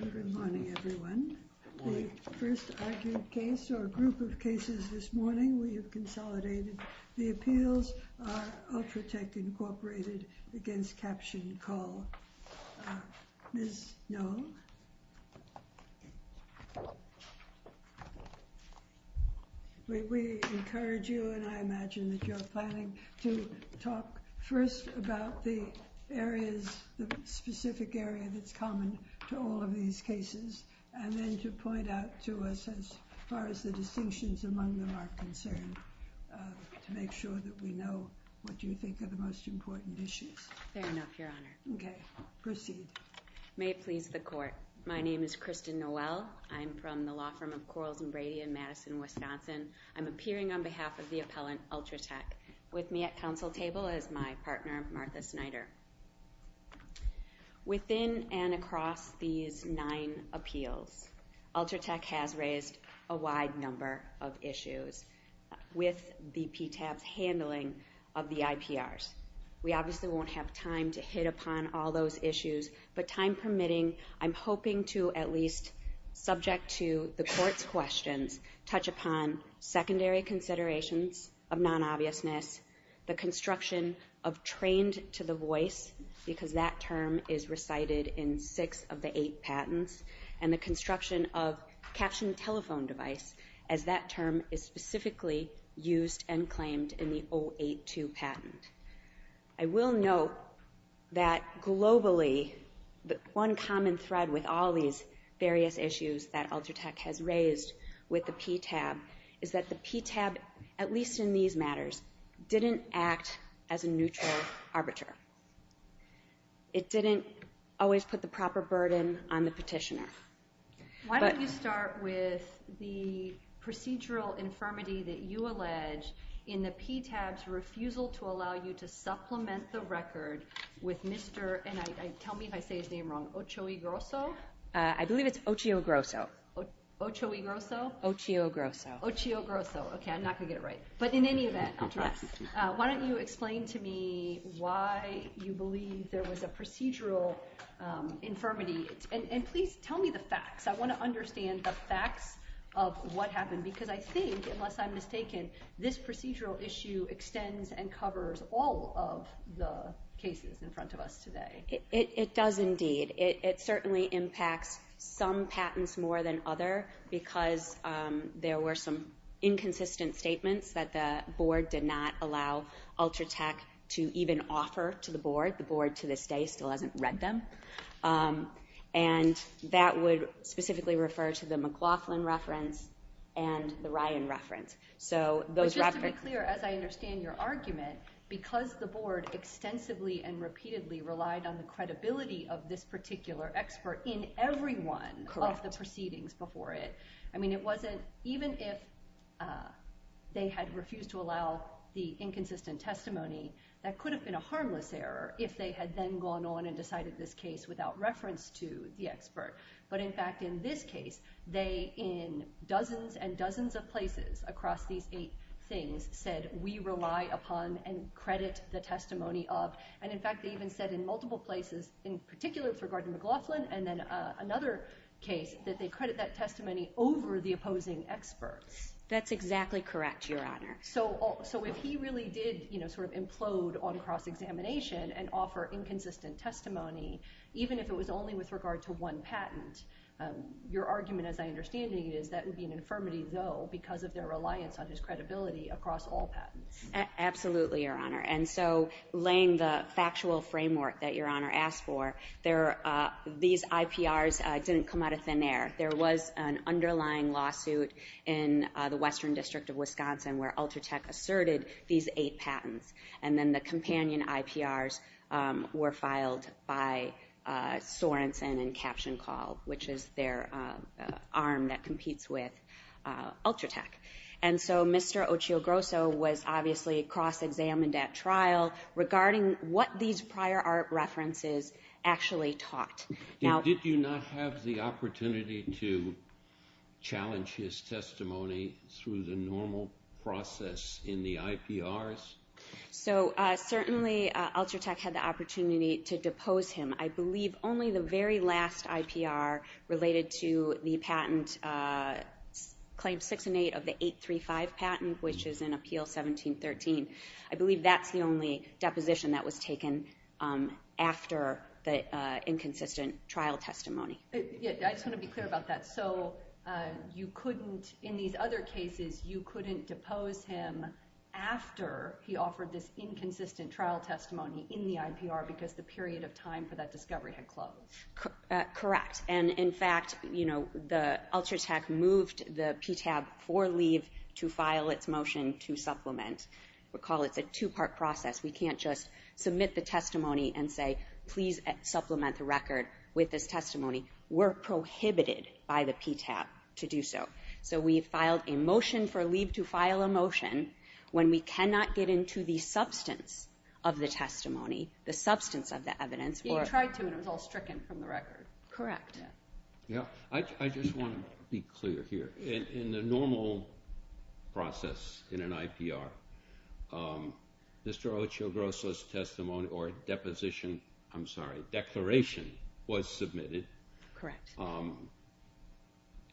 Good morning, everyone. The first argued case, or group of cases this morning, we have consolidated. The appeals are Ultratec, Inc. v. CaptionCall. Ms. Noll, we encourage you, and I imagine that you're planning to talk first about the specific areas that are common to all of these cases, and then to point out to us, as far as the distinctions among them are concerned, to make sure that we know what you think are the most important issues. Fair enough, Your Honor. Okay, proceed. May it please the Court. My name is Kristen Noel. I'm from the law firm of Coralton Brady in Madison, Wisconsin. I'm appearing on behalf of the appellant, Ultratec, with me at counsel table is my partner, Martha Snyder. Within and across these nine appeals, Ultratec has raised a wide number of issues with the PTAS handling of the IPRs. We obviously won't have time to hit upon all those issues, but time permitting, I'm hoping to at least, subject to the Court's question, touch upon secondary considerations of non-obviousness, the construction of trained-to-the-voice, because that term is recited in six of the eight patents, and the construction of captioned telephone device, as that term is specifically used and claimed in the 082 patent. I will note that globally, the one common thread with all these various issues that Ultratec has raised with the PTAB, is that the PTAB, at least in these matters, didn't act as a neutral arbiter. It didn't always put the proper burden on the petitioner. Why don't you start with the procedural infirmity that you allege in the PTAB's refusal to allow you to supplement the record with Mr., and tell me if I say his name wrong, Ochiogrosso? I believe it's Ochiogrosso. Ochiogrosso? Ochiogrosso. Ochiogrosso. Okay, I'm not going to get it right. But in any event, why don't you explain to me why you believe there was a procedural infirmity, and please tell me the facts. I want to understand the facts of what happened, because I think, unless I'm mistaken, this procedural issue extends and covers all of the cases in front of us today. It does indeed. It certainly impacts some patents more than others, because there were some inconsistent statements that the board did not allow Ultratec to even offer to the board. The board, to this day, still hasn't read them. And that would specifically refer to the McLaughlin reference and the Ryan reference. But just to be clear, as I understand your argument, because the board extensively and repeatedly relied on the credibility of this particular expert in every one of the proceedings before it, I mean, it wasn't even if they had refused to allow the inconsistent testimony, that could have been a harmless error if they had then gone on and decided this case without reference to the expert. But, in fact, in this case, they, in dozens and dozens of places across these eight things, said, we rely upon and credit the testimony of. And, in fact, they even said in multiple places, in particular regarding McLaughlin, and then another case, that they credit that testimony over the opposing expert. That's exactly correct, Your Honor. So if he really did sort of implode on cross-examination and offer inconsistent testimony, even if it was only with regard to one patent, your argument, as I understand it, is that would be an infirmity, though, because of their reliance on his credibility across all patents. Absolutely, Your Honor. And so laying the factual framework that Your Honor asked for, these IPRs didn't come out of thin air. There was an underlying lawsuit in the Western District of Wisconsin where Ultratech asserted these eight patents. And then the companion IPRs were filed by Sorenson and CaptionCall, which is their arm that competes with Ultratech. And so Mr. Ochiogrosso was obviously cross-examined at trial regarding what these prior art references actually taught. Did you not have the opportunity to challenge his testimony through the normal process in the IPRs? So certainly Ultratech had the opportunity to depose him. I believe only the very last IPR related to the patent Claim 6 and 8 of the 835 patent, which is in Appeal 1713. I believe that's the only deposition that was taken after the inconsistent trial testimony. I just want to be clear about that. So you couldn't, in these other cases, you couldn't depose him after he offered this inconsistent trial testimony in the IPR because the period of time for that discovery had closed? Correct. And in fact, you know, the Ultratech moved the PTAB for Leib to file its motion to supplement. We call it the two-part process. We can't just submit the testimony and say, please supplement the record with this testimony. We're prohibited by the PTAB to do so. So we filed a motion for Leib to file a motion. When we cannot get into the substance of the testimony, the substance of the evidence. He tried to, and was all stricken from the record. Correct. I just want to be clear here. In the normal process in an IPR, Mr. Ochoa Gross' testimony or deposition, I'm sorry, declaration was submitted. Correct.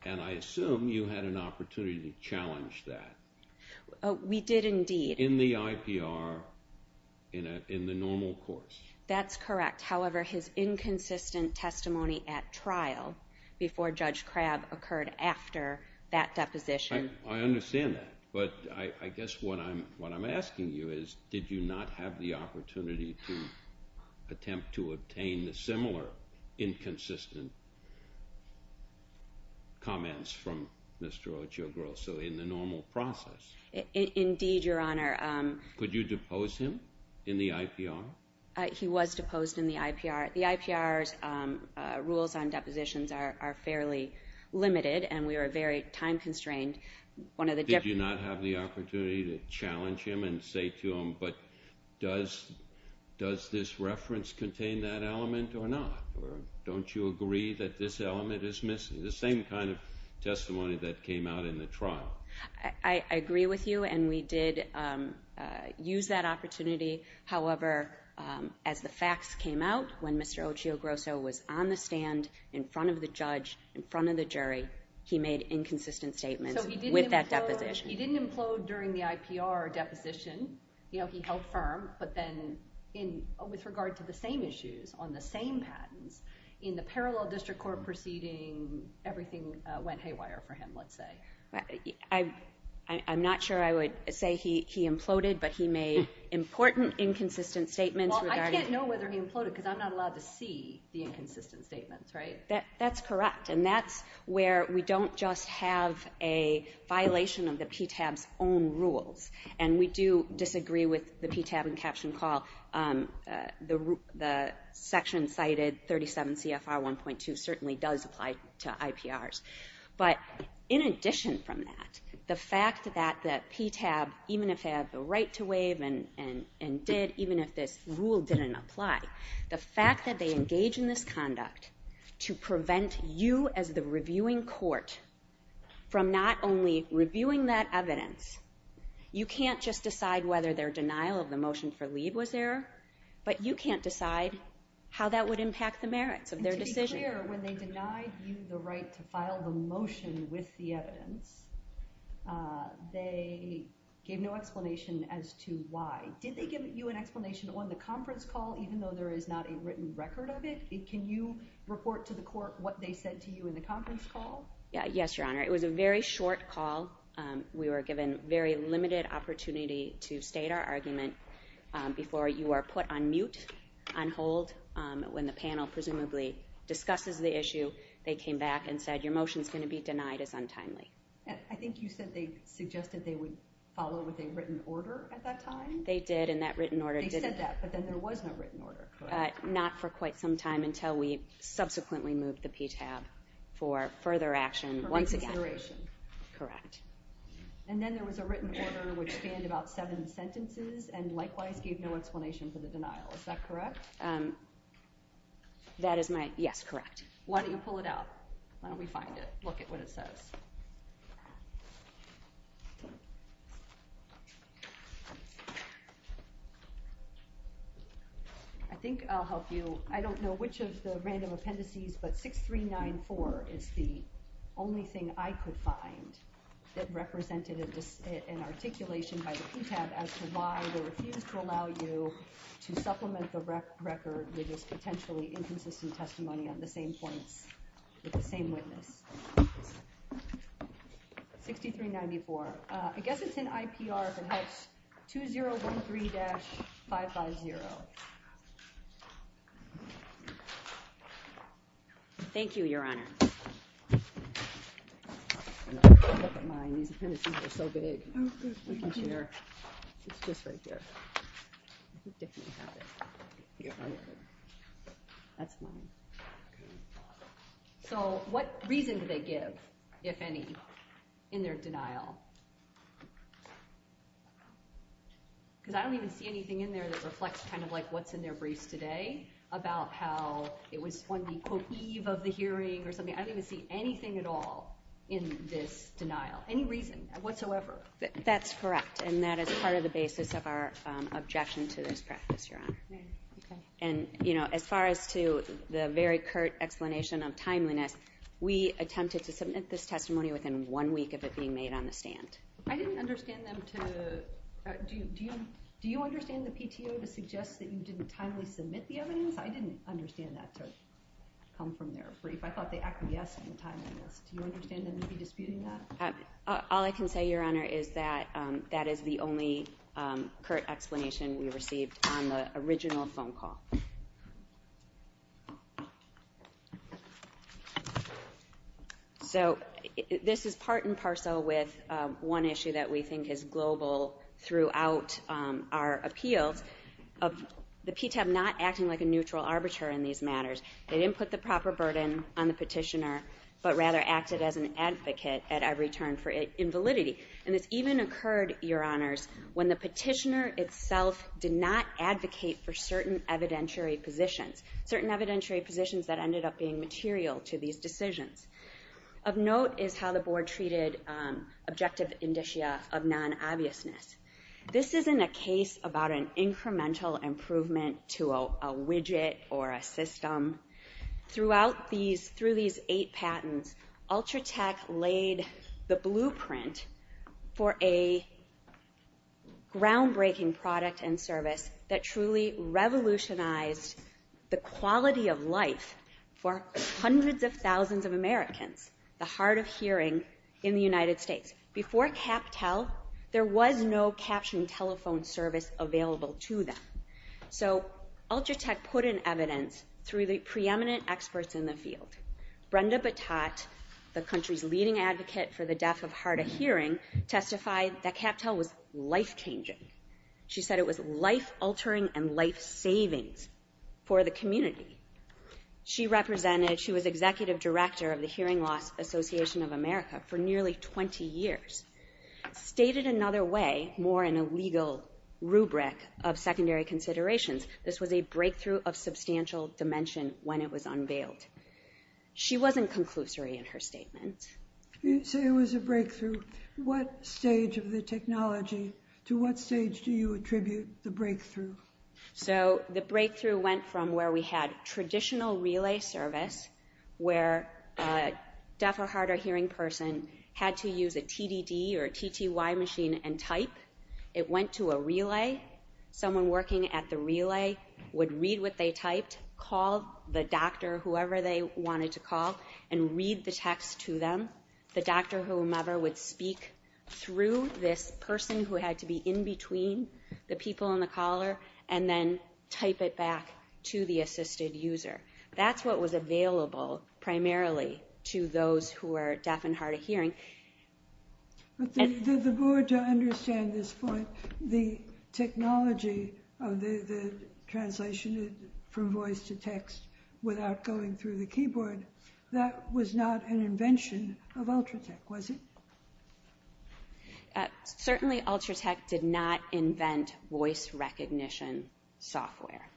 And I assume you had an opportunity to challenge that. We did indeed. In the IPR, in the normal course. That's correct. However, his inconsistent testimony at trial before Judge Crabb occurred after that deposition. I understand that, but I guess what I'm asking you is, did you not have the opportunity to attempt to obtain the similar inconsistent comments from Mr. Ochoa Gross? In the normal process. Indeed, Your Honor. Could you depose him in the IPR? He was deposed in the IPR. The IPR's rules on depositions are fairly limited, and we are very time constrained. Did you not have the opportunity to challenge him and say to him, but does this reference contain that element or not? Or don't you agree that this element is missing? The same kind of testimony that came out in the trial. I agree with you, and we did use that opportunity. However, as the facts came out, when Mr. Ochoa Gross was on the stand in front of the judge, in front of the jury, he made inconsistent statements with that deposition. He didn't implode during the IPR deposition. He held firm. But then with regard to the same issues on the same patent, in the parallel district court proceeding, everything went haywire for him, let's say. I'm not sure I would say he imploded, but he made important inconsistent statements. Well, I can't know whether he imploded because I'm not allowed to see the inconsistent statements, right? That's correct, and that's where we don't just have a violation of the PTAB's own rules. And we do disagree with the PTAB and caption call. The section cited, 37 CFR 1.2, certainly does apply to IPRs. But in addition from that, the fact that PTAB, even if they have the right to waive and did, even if this rule didn't apply, the fact that they engage in this conduct to prevent you as the reviewing court from not only reviewing that evidence, you can't just decide whether their denial of the motion for leave was there, but you can't decide how that would impact the merits of their decision. When they denied you the right to file the motion with the evidence, they gave no explanation as to why. Did they give you an explanation on the conference call, even though there is not a written record of it? Can you report to the court what they said to you in the conference call? Yes, Your Honor. It was a very short call. We were given very limited opportunity to state our argument before you were put on mute, on hold. When the panel presumably discussed the issue, they came back and said, your motion is going to be denied. It's untimely. I think you said they suggested they would follow with a written order at that time? They did, and that written order did exist. They said that, but then there was no written order, correct? Not for quite some time until we subsequently moved to PTAB for further action once again. For consideration? Correct. And then there was a written order which spanned about seven sentences and likewise gave no explanation for the denial. Is that correct? That is my – yes, correct. Why don't you pull it out? Why don't we find it and look at what it says? I think I'll help you. I don't know which of the random appendices, but 6394 is the only thing I could find that represented an articulation by PTAB as to why they refused to allow you to supplement the record with potentially inconsistent testimony on the same point with the same witness. 6394. I guess it's in IPR, perhaps 2013-550. Thank you, Your Honor. That's mine. So what reason do they give, if any, in their denial? Because I don't even see anything in there that reflects kind of like what's in their brief today about how it was one of the eve of the hearing or something. I don't even see anything at all in this denial, any reason whatsoever. That's correct, and that is part of the basis of our objection to this practice, Your Honor. And, you know, as far as to the very curt explanation of timeliness, we attempted to submit this testimony within one week of it being made on the stand. I didn't understand them to – do you understand the PTO to suggest that you didn't timely submit the evidence? I didn't understand that to come from their brief. I thought they actually asked you to time it. Do you understand them to be disputing that? All I can say, Your Honor, is that that is the only curt explanation we received on the original phone call. So this is part and parcel with one issue that we think is global throughout our appeal of the PTO not acting like a neutral arbiter in these matters. They didn't put the proper burden on the petitioner, but rather acted as an advocate at every turn for invalidity. And it even occurred, Your Honors, when the petitioner itself did not advocate for certain evidentiary positions, certain evidentiary positions that ended up being material to these decisions. Of note is how the board treated objective indicia of non-obviousness. This isn't a case about an incremental improvement to a widget or a system. Throughout these – through these eight patents, Ultratech laid the blueprint for a groundbreaking product and service that truly revolutionized the quality of life for hundreds of thousands of Americans, the hard of hearing in the United States. Before CapTel, there was no captioning telephone service available to them. So Ultratech put in evidence through the preeminent experts in the field. Brenda Batot, the country's leading advocate for the deaf and hard of hearing, testified that CapTel was life-changing. She said it was life-altering and life-saving for the community. She represented – she was executive director of the Hearing Loss Association of America for nearly 20 years. Stated another way, more in a legal rubric of secondary considerations, this was a breakthrough of substantial dimension when it was unveiled. She wasn't conclusory in her statement. You say it was a breakthrough. What stage of the technology – to what stage do you attribute the breakthrough? So the breakthrough went from where we had traditional relay service where a deaf or hard of hearing person had to use a TDD or a TTY machine and type. It went to a relay. Someone working at the relay would read what they typed, call the doctor, whoever they wanted to call, and read the text to them. The doctor, whomever, would speak through this person who had to be in between the people on the caller and then type it back to the assistive user. That's what was available primarily to those who were deaf and hard of hearing. Did the board understand at this point the technology of the translation from voice to text without going through the keyboard? That was not an invention of Ultratech, was it? Certainly, Ultratech did not invent voice recognition software.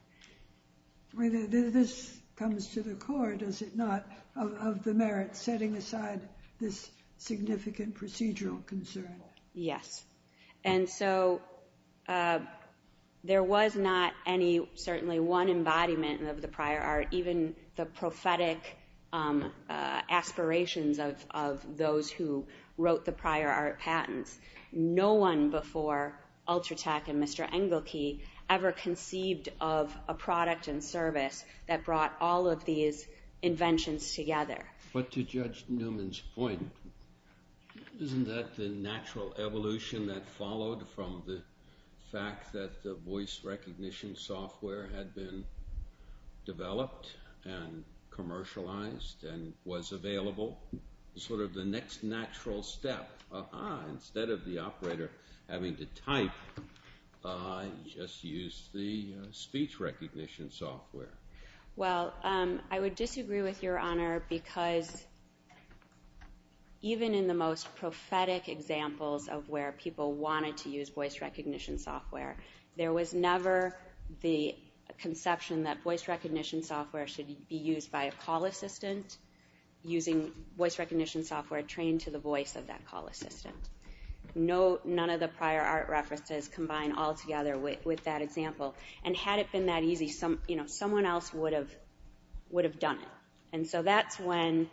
Whether this comes to the court, is it not, of the merit setting aside this significant procedural concern? Yes. And so there was not any – certainly one embodiment of the prior art, even the prophetic aspirations of those who wrote the prior art patents. No one before Ultratech and Mr. Engelke ever conceived of a product and service that brought all of these inventions together. But to Judge Newman's point, isn't that the natural evolution that followed from the fact that the voice recognition software had been developed and commercialized and was available? Sort of the next natural step, instead of the operator having to type, just use the speech recognition software. Well, I would disagree with Your Honor because even in the most prophetic examples of where people wanted to use voice recognition software, there was never the conception that voice recognition software should be used by a call assistant using voice recognition software trained to the voice of that call assistant. None of the prior art references combine all together with that example. And had it been that easy, someone else would have done it. And so that's when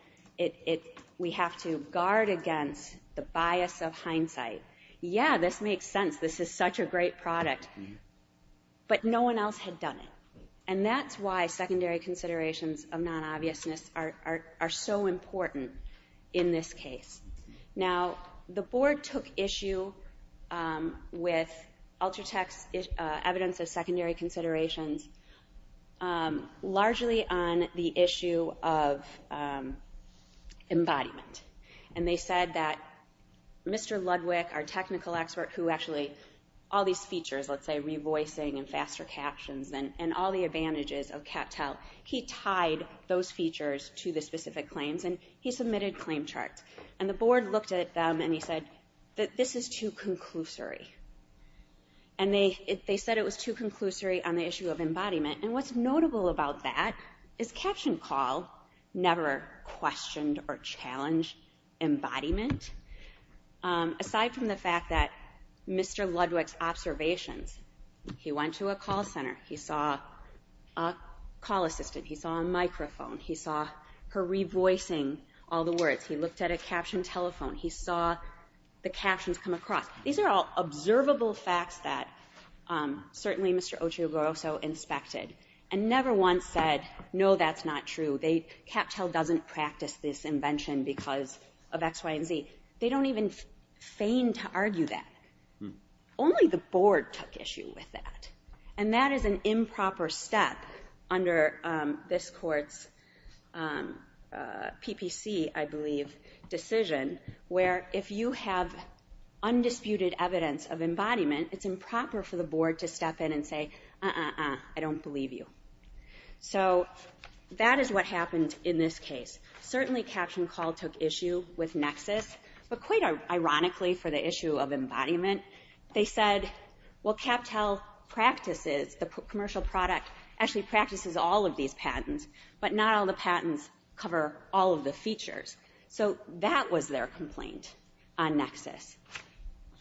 we have to guard against the bias of hindsight. Yeah, this makes sense. This is such a great product. But no one else had done it. And that's why secondary considerations of non-obviousness are so important in this case. Now, the board took issue with Ultratech's evidence of secondary considerations largely on the issue of embodiment. And they said that Mr. Ludwig, our technical expert, who actually all these features, let's say revoicing and faster captions and all the advantages of Captel, he tied those features to the specific claims and he submitted claim charts. And the board looked at them and he said, this is too conclusory. And they said it was too conclusory on the issue of embodiment. And what's notable about that is CaptionCall never questioned or challenged embodiment. Aside from the fact that Mr. Ludwig's observations, he went to a call center. He saw a call assistant. He saw a microphone. He saw her revoicing all the words. He looked at a captioned telephone. He saw the captions come across. These are all observable facts that certainly Mr. Otrioboroso inspected and never once said, no, that's not true. Captel doesn't practice this invention because of X, Y, and Z. They don't even feign to argue that. Only the board took issue with that. And that is an improper step under this court's PPC, I believe, decision, where if you have undisputed evidence of embodiment, it's improper for the board to step in and say, uh-uh-uh, I don't believe you. So that is what happened in this case. Certainly CaptionCall took issue with nexus, but quite ironically for the issue of embodiment, they said, well, Captel practices a commercial product, actually practices all of these patents, but not all the patents cover all of the features. So that was their complaint on nexus.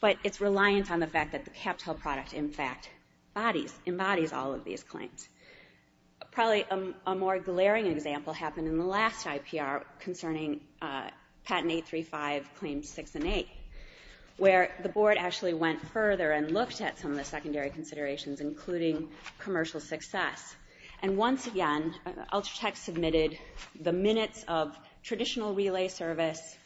But it's reliant on the fact that the Captel product, in fact, embodies all of these claims. Probably a more glaring example happened in the last IPR concerning patent 835, claims 6 and 8, where the board actually went further and looked at some of the secondary considerations, including commercial success. And once again, Ultratech submitted the minutes of traditional relay service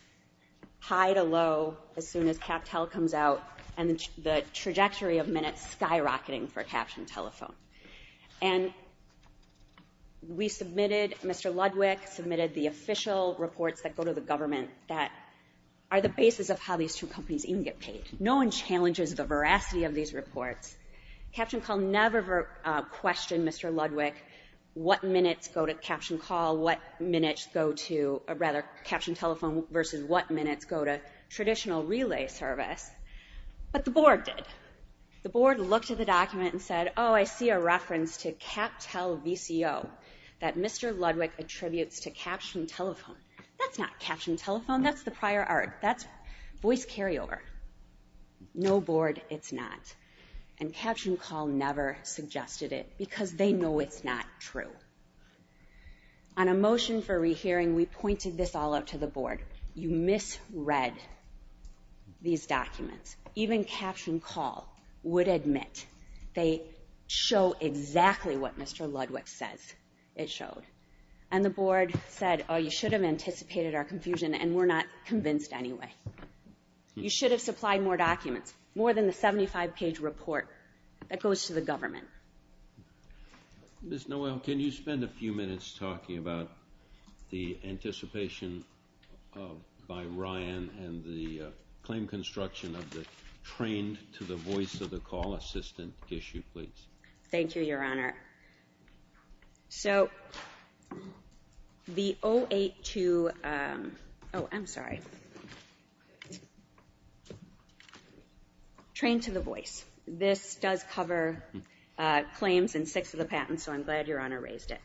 high to low as soon as Captel comes out and the trajectory of minutes skyrocketing for CaptionTelephone. And we submitted, Mr. Ludwick submitted the official reports that go to the government that are the basis of how these two companies even get paid. No one challenges the veracity of these reports. CaptionCall never questioned Mr. Ludwick what minutes go to CaptionCall, what minutes go to, or rather CaptionTelephone versus what minutes go to traditional relay service. But the board did. The board looked at the document and said, oh, I see a reference to Captel VCO that Mr. Ludwick attributes to CaptionTelephone. That's not CaptionTelephone. That's the prior art. That's voice carryover. No, board, it's not. And CaptionCall never suggested it because they know it's not true. On a motion for rehearing, we pointed this all out to the board. You misread these documents. Even CaptionCall would admit they show exactly what Mr. Ludwick says it shows. And the board said, oh, you should have anticipated our confusion, and we're not convinced anyway. You should have supplied more documents, more than the 75-page report that goes to the government. Ms. Noel, can you spend a few minutes talking about the anticipation by Ryan and the claim construction of the trained-to-the-voice-of-the-call assistant issue, please? Thank you, Your Honor. So the 082 ‑‑ oh, I'm sorry. Trained-to-the-voice. This does cover claims in six of the patents, so I'm glad Your Honor raised it.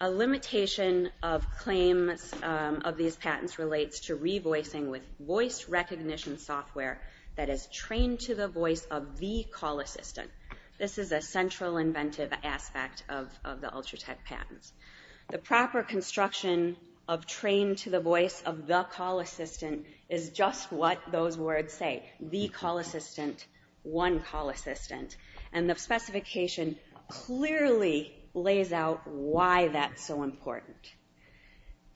A limitation of claims of these patents relates to revoicing with voice recognition software that is trained-to-the-voice-of-the-call assistant. This is a central inventive aspect of the Ultratech patents. The proper construction of trained-to-the-voice-of-the-call assistant is just what those words say, the call assistant, one call assistant. And the specification clearly lays out why that's so important.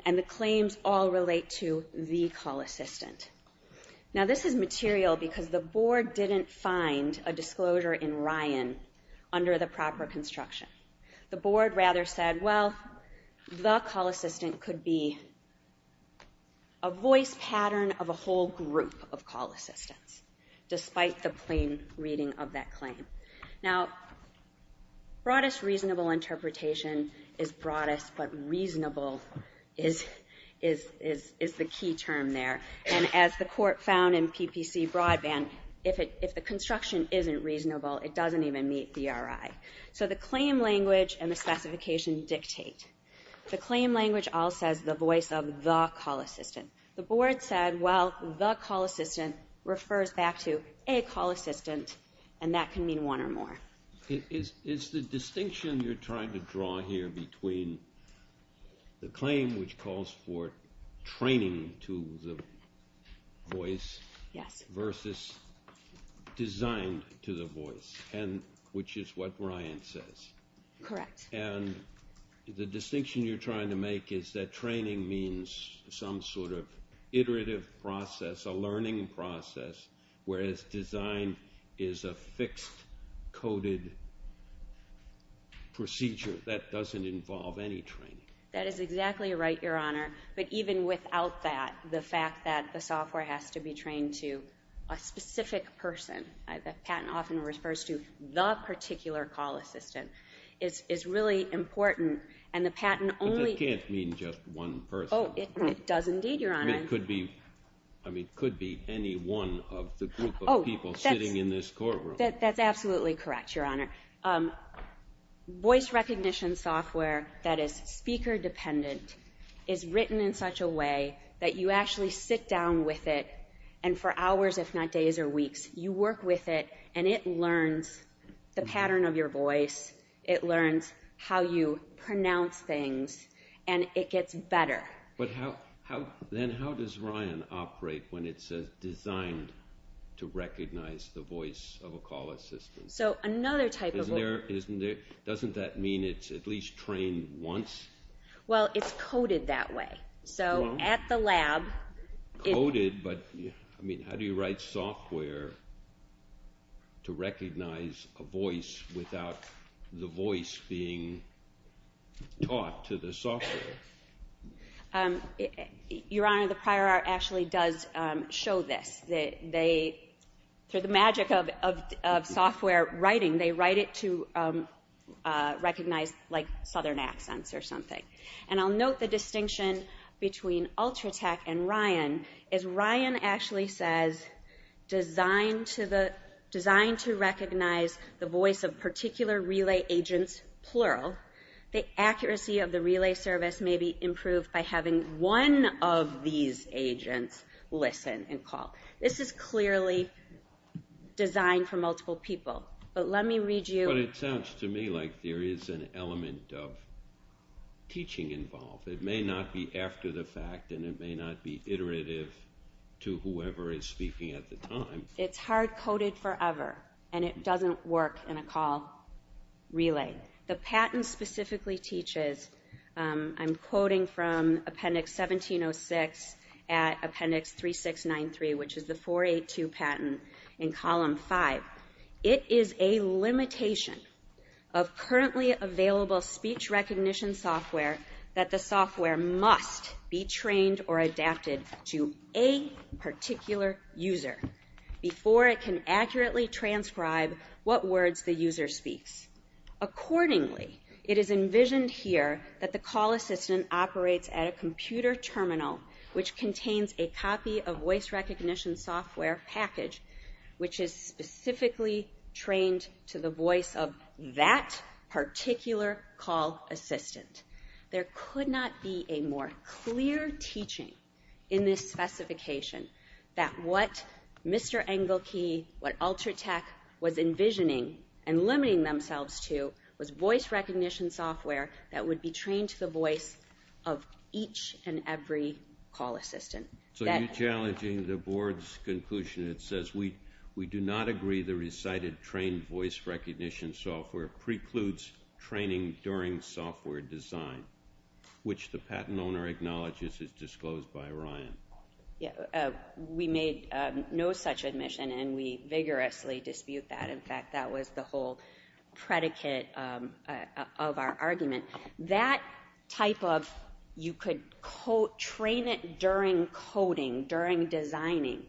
And the claims all relate to the call assistant. Now, this is material because the board didn't find a disclosure in Ryan under the proper construction. The board rather said, well, the call assistant could be a voice pattern of a whole group of call assistants, despite the plain reading of that claim. Now, broadest reasonable interpretation is broadest, but reasonable is the key term there. And as the court found in PPC Broadband, if the construction isn't reasonable, it doesn't even meet DRI. So the claim language and the specification dictate. The claim language all says the voice of the call assistant. The board said, well, the call assistant refers back to a call assistant, and that can mean one or more. It's the distinction you're trying to draw here between the claim, which calls for training to the voice, versus design to the voice, which is what Ryan says. Correct. And the distinction you're trying to make is that training means some sort of iterative process, a learning process, whereas design is a fixed, coded procedure that doesn't involve any training. That is exactly right, Your Honor. But even without that, the fact that the software has to be trained to a specific person, the patent often refers to the particular call assistant, is really important. And the patent only— It just can't mean just one person. Oh, it does indeed, Your Honor. I mean, it could be any one of the group of people sitting in this courtroom. That's absolutely correct, Your Honor. Voice recognition software that is speaker-dependent is written in such a way that you actually sit down with it, and for hours, if not days or weeks, you work with it, and it learns the pattern of your voice. It learns how you pronounce things, and it gets better. But then how does Ryan operate when it's designed to recognize the voice of a call assistant? So another type of— Doesn't that mean it's at least trained once? Well, it's coded that way. So at the lab— Coded, but how do you write software to recognize a voice without the voice being taught to the software? Your Honor, the prior art actually does show this. They, through the magic of software writing, they write it to recognize, like, southern accents or something. And I'll note the distinction between Ultratech and Ryan. If Ryan actually says, designed to recognize the voice of particular relay agents, plural, the accuracy of the relay service may be improved by having one of these agents listen and call. This is clearly designed for multiple people. But let me read you— But it sounds to me like there is an element of teaching involved. It may not be after the fact, and it may not be iterative to whoever is speaking at the time. It's hard-coded forever, and it doesn't work in a call relay. The patent specifically teaches— I'm quoting from Appendix 1706 at Appendix 3693, which is the 482 patent in Column 5. It is a limitation of currently available speech recognition software that the software must be trained or adapted to a particular user before it can accurately transcribe what words the user speaks. Accordingly, it is envisioned here that the call assistant operates at a computer terminal which contains a copy of voice recognition software package, which is specifically trained to the voice of that particular call assistant. There could not be a more clear teaching in this specification that what Mr. Engelke, what Ultratech was envisioning and limiting themselves to was voice recognition software that would be trained to the voice of each and every call assistant. So you're challenging the board's conclusion that says, we do not agree the recited trained voice recognition software precludes training during software design, which the patent owner acknowledges is disclosed by Ryan. We made no such admission, and we vigorously dispute that. In fact, that was the whole predicate of our argument. That type of, you could train it during coding, during designing,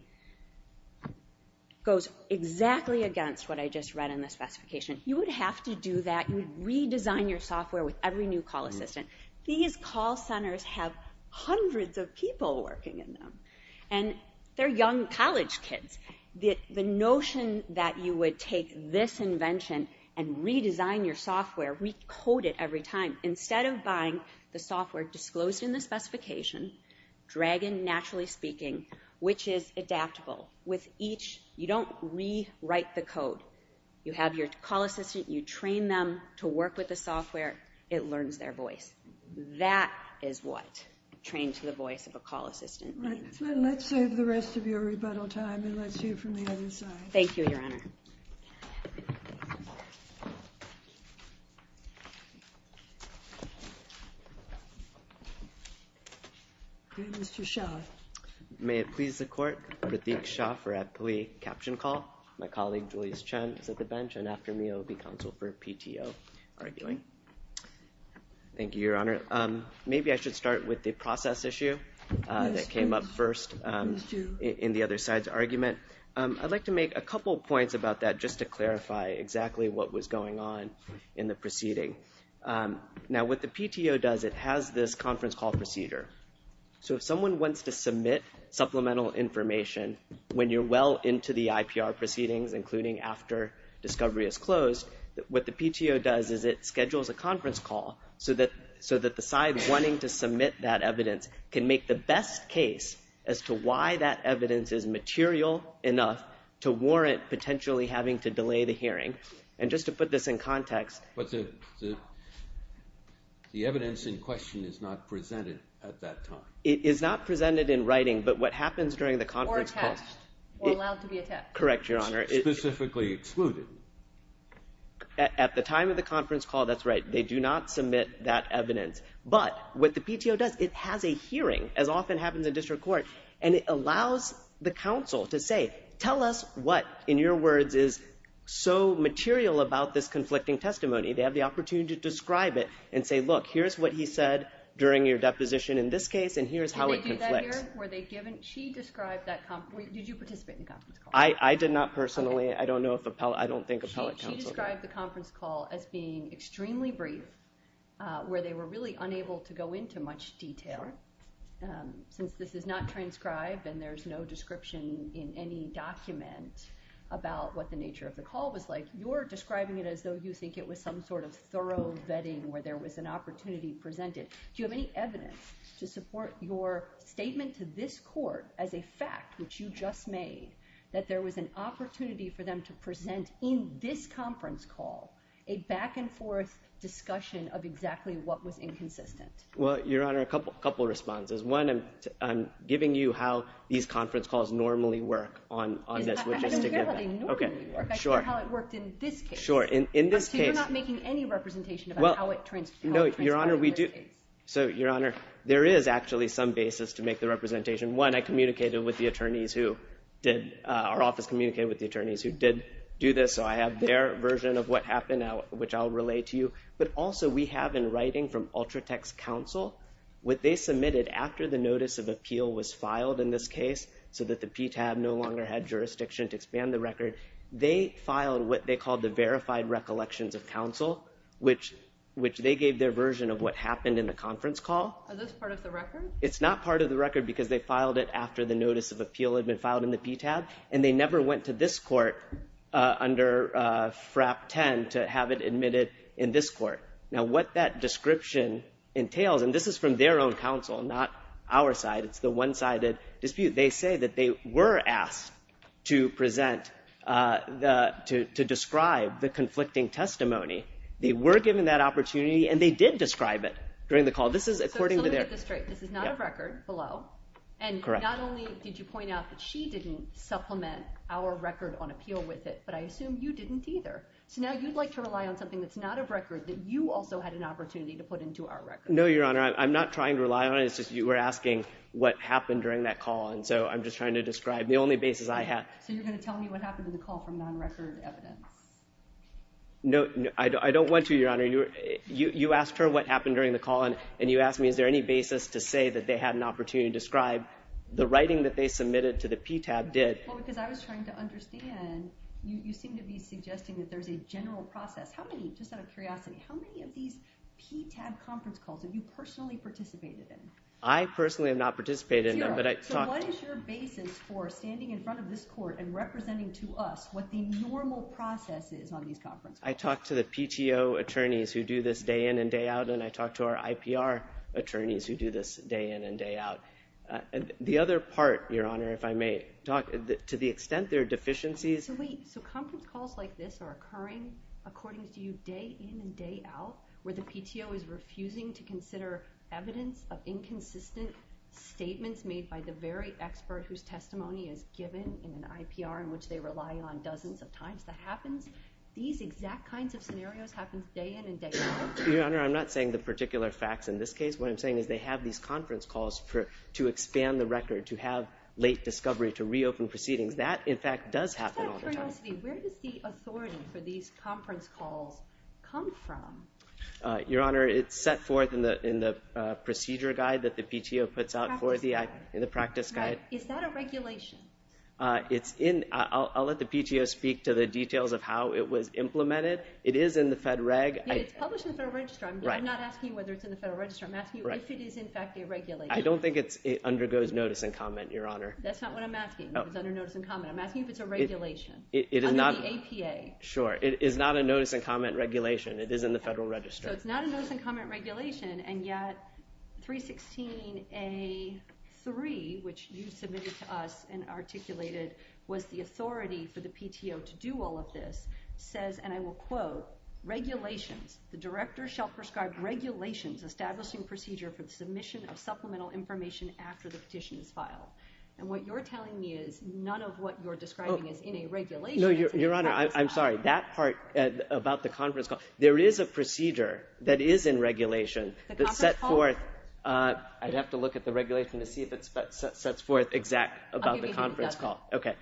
goes exactly against what I just read in the specification. You would have to do that. You would redesign your software with every new call assistant. These call centers have hundreds of people working in them, and they're young college kids. The notion that you would take this invention and redesign your software, recode it every time, instead of buying the software disclosed in the specification, drag in NaturallySpeaking, which is adaptable. With each, you don't rewrite the code. You have your call assistant. You train them to work with the software. It learns their voice. That is what trains the voice of a call assistant. Let's save the rest of your rebuttal time and let's hear from the other side. Thank you, Your Honor. Thank you, Your Honor. May it please the Court, that Vick Shaw for ad ploie caption call, my colleague, Louise Chen for the bench, and after me, it will be counsel for PTO arguing. Thank you, Your Honor. Maybe I should start with the process issue that came up first in the other side's argument. I'd like to make a couple points about that just to clarify exactly what was going on in the proceeding. Now, what the PTO does, it has this conference call procedure. So if someone wants to submit supplemental information, when you're well into the IPR proceedings, including after discovery is closed, what the PTO does is it schedules a conference call so that the side wanting to submit that evidence can make the best case as to why that evidence is material enough to warrant potentially having to delay the hearing. And just to put this in context. The evidence in question is not presented at that time. It is not presented in writing, but what happens during the conference calls. Or attached. Correct, Your Honor. Specifically excluded. At the time of the conference call, that's right. They do not submit that evidence. But what the PTO does, it has a hearing, as often happens in district courts, and it allows the counsel to say, tell us what, in your words, is so material about this conflicting testimony. They have the opportunity to describe it and say, look, here's what he said during your deposition in this case and here's how it conflicts. Did you participate in that conference call? I did not personally. I don't think appellate counsel does. You described the conference call as being extremely brief, where they were really unable to go into much detail. Since this is not transcribed and there's no description in any document about what the nature of the call was like, you're describing it as though you think it was some sort of thorough vetting where there was an opportunity presented. Do you have any evidence to support your statement to this court as a fact, which you just made, that there was an opportunity for them to present in this conference call a back-and-forth discussion of exactly what was inconsistent? Well, Your Honor, a couple of responses. One, I'm giving you how these conference calls normally work on this. I didn't say how they normally work. I said how it worked in this case. Sure. So you're not making any representation about how it transcribed in this case. No, Your Honor, we do. So, Your Honor, there is actually some basis to make the representation. One, I communicated with the attorneys who did do this, so I have their version of what happened, which I'll relay to you. But also we have in writing from Ultratech's counsel, what they submitted after the notice of appeal was filed in this case so that the PTAB no longer had jurisdiction to expand the record, they filed what they called the verified recollections of counsel, which they gave their version of what happened in the conference call. Is this part of the record? It's not part of the record because they filed it after the notice of appeal had been filed in the PTAB, and they never went to this court under FRAP 10 to have it admitted in this court. Now, what that description entails, and this is from their own counsel, not our side. It's the one-sided dispute. They say that they were asked to present to describe the conflicting testimony. They were given that opportunity, and they did describe it during the call. This is not a record below, and not only did you point out that she didn't supplement our record on appeal with it, but I assume you didn't either. So now you'd like to rely on something that's not a record that you also had an opportunity to put into our record. No, Your Honor. I'm not trying to rely on it. It's just you were asking what happened during that call, and so I'm just trying to describe the only basis I have. So you're going to tell me what happened in the call from non-recorded evidence? No, I don't want to, Your Honor. You asked her what happened during the call, and you asked me is there any basis to say that they had an opportunity to describe. The writing that they submitted to the PTAB did. Well, because I was trying to understand. You seem to be suggesting that there's a general process. Just out of curiosity, how many of these PTAB conference calls have you personally participated in? I personally have not participated in them. So what is your basis for standing in front of this court and representing to us what the normal process is on these conferences? I talked to the PTO attorneys who do this day in and day out, and I talked to our IPR attorneys who do this day in and day out. The other part, Your Honor, if I may, to the extent there are deficiencies. So conference calls like this are occurring, according to you, day in and day out, where the PTO is refusing to consider evidence of inconsistent statements made by the very expert whose testimony is given in an IPR in which they rely on dozens of times to happen. These exact kinds of scenarios happen day in and day out. Your Honor, I'm not saying the particular facts in this case. What I'm saying is they have these conference calls to expand the record, to have late discovery, to reopen proceedings. That, in fact, does happen all the time. Just out of curiosity, where does the authority for these conference calls come from? Your Honor, it's set forth in the procedure guide that the PTO puts out for the practice guide. Is that a regulation? I'll let the PTO speak to the details of how it was implemented. It is in the Fed Reg. It's published in the Federal Register. I'm not asking whether it's in the Federal Register. I'm asking if it is, in fact, a regulation. I don't think it undergoes notice and comment, Your Honor. That's not what I'm asking. It's under notice and comment. I'm asking if it's a regulation under the APA. Sure. It is not a notice and comment regulation. It is in the Federal Register. So it's not a notice and comment regulation, and yet 316A.3, which you submitted to us and articulated was the authority for the PTO to do all of this, says, and I will quote, Regulations. The Director shall prescribe regulations establishing procedure for the submission of supplemental information after the petition is filed. And what you're telling me is none of what you're describing is in a regulation. No, Your Honor. I'm sorry. That part about the conference call. There is a procedure that is in regulation. The conference call? I'd have to look at the regulation to see if it sets forth exact about the conference call. Okay.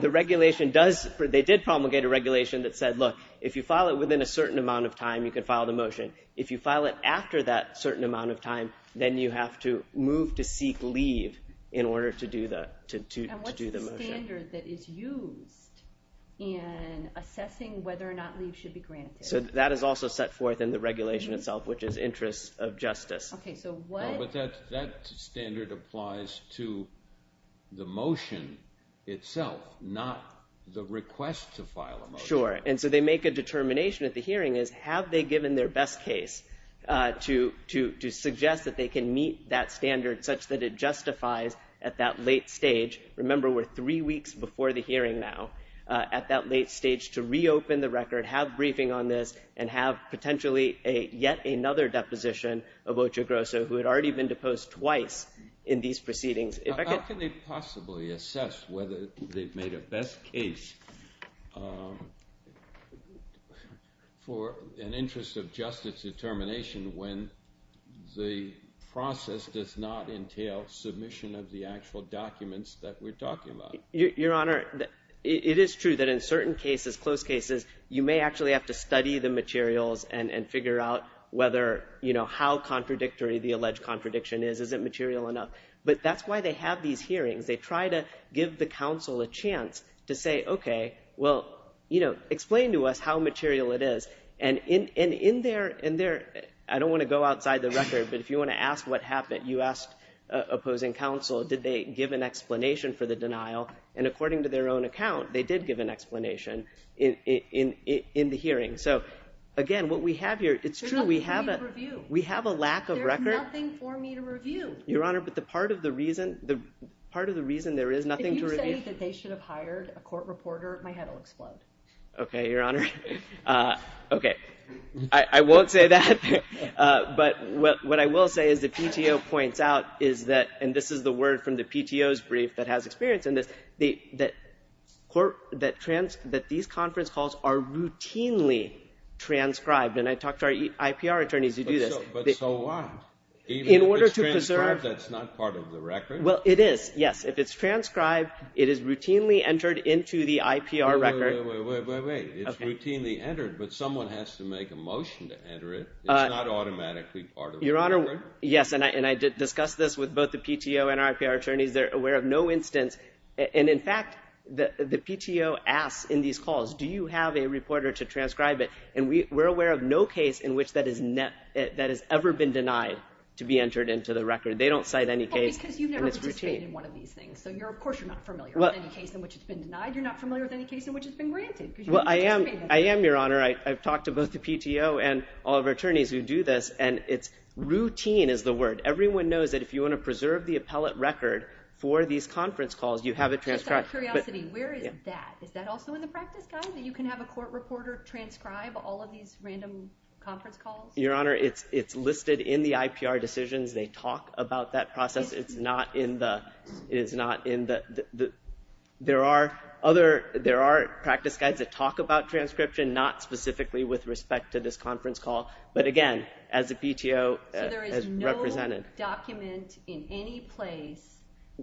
The regulation does, they did promulgate a regulation that said, look, if you file it within a certain amount of time, you can file the motion. If you file it after that certain amount of time, then you have to move to seek leave in order to do the motion. That's the standard that is used in assessing whether or not leave should be granted. So that is also set forth in the regulation itself, which is interest of justice. Okay. But that standard applies to the motion itself, not the request to file a motion. Sure. And so they make a determination at the hearing is have they given their best case to suggest that they can meet that standard such that it justifies at that late stage. Remember, we're three weeks before the hearing now. At that late stage to reopen the record, have briefing on this, and have potentially yet another deposition of Ocho Grosso, who had already been deposed twice in these proceedings. How can they possibly assess whether they've made a best case for an interest of justice determination when the process does not entail submission of the actual documents that we're talking about? Your Honor, it is true that in certain cases, closed cases, you may actually have to study the materials and figure out whether, you know, how contradictory the alleged contradiction is. Is it material enough? But that's why they have these hearings. They try to give the counsel a chance to say, okay, well, you know, explain to us how material it is. And in their – I don't want to go outside the record, but if you want to ask what happened, you asked opposing counsel did they give an explanation for the denial. And according to their own account, they did give an explanation in the hearing. So, again, what we have here – it's true, we have a lack of record. There's nothing for me to review. Your Honor, but the part of the reason – the part of the reason there is nothing to review – If you say that they should have hired a court reporter, my head will explode. Okay, Your Honor. Okay. I won't say that. But what I will say is the PTO points out is that – and this is the word from the PTO's brief that has experience in this – that these conference calls are routinely transcribed. And I talked to our IPR attorneys who do this. But so what? In order to preserve – Even if it's transcribed, that's not part of the record. Well, it is, yes. If it's transcribed, it is routinely entered into the IPR record. Wait, wait, wait, wait, wait. It's routinely entered, but someone has to make a motion to enter it. It's not automatically part of the record. Your Honor, yes, and I discussed this with both the PTO and our IPR attorneys. They're aware of no instance – and, in fact, the PTO asks in these calls, do you have a reporter to transcribe it? And we're aware of no case in which that has ever been denied to be entered into the record. They don't cite any case, and it's routine. Well, because you've never participated in one of these things, so of course you're not familiar with any case in which it's been denied. You're not familiar with any case in which it's been granted. Well, I am, Your Honor. I've talked to both the PTO and all of our attorneys who do this, and it's routine is the word. Everyone knows that if you want to preserve the appellate record for these conference calls, you have it transcribed. Just out of curiosity, where is that? Is that also in the practice, guys? You can have a court reporter transcribe all of these random conference calls? Your Honor, it's listed in the IPR decisions. They talk about that process. It's not in the – there are other – there are practice guides that talk about transcription, not specifically with respect to this conference call, but, again, as the PTO has represented. There is no document in any place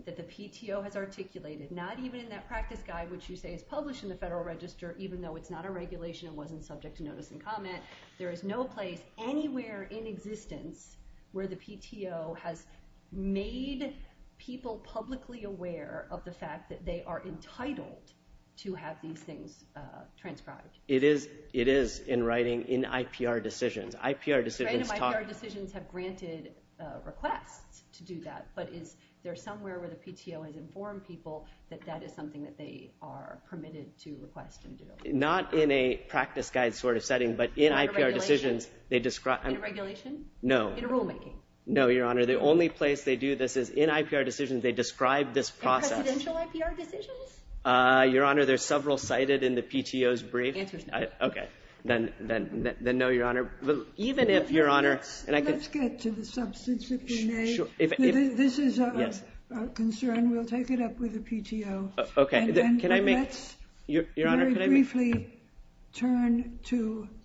that the PTO has articulated, not even in that practice guide, which you say is published in the Federal Register, even though it's not a regulation and wasn't subject to notice and comment. There is no place anywhere in existence where the PTO has made people publicly aware of the fact that they are entitled to have these things transcribed. It is in writing in IPR decisions. Random IPR decisions have granted requests to do that, but if there's somewhere where the PTO has informed people that that is something that they are permitted to request them do. Not in a practice guide sort of setting, but in IPR decisions, they describe – In regulation? No. In rulemaking? No, Your Honor. The only place they do this is in IPR decisions. They describe this process. In presidential IPR decisions? Your Honor, there's several cited in the PTO's brief. Okay. Then no, Your Honor. Even if, Your Honor – Let's get to the substance, if you may. This is of concern. We'll take it up with the PTO. Okay. Can I make – Let's very briefly turn to –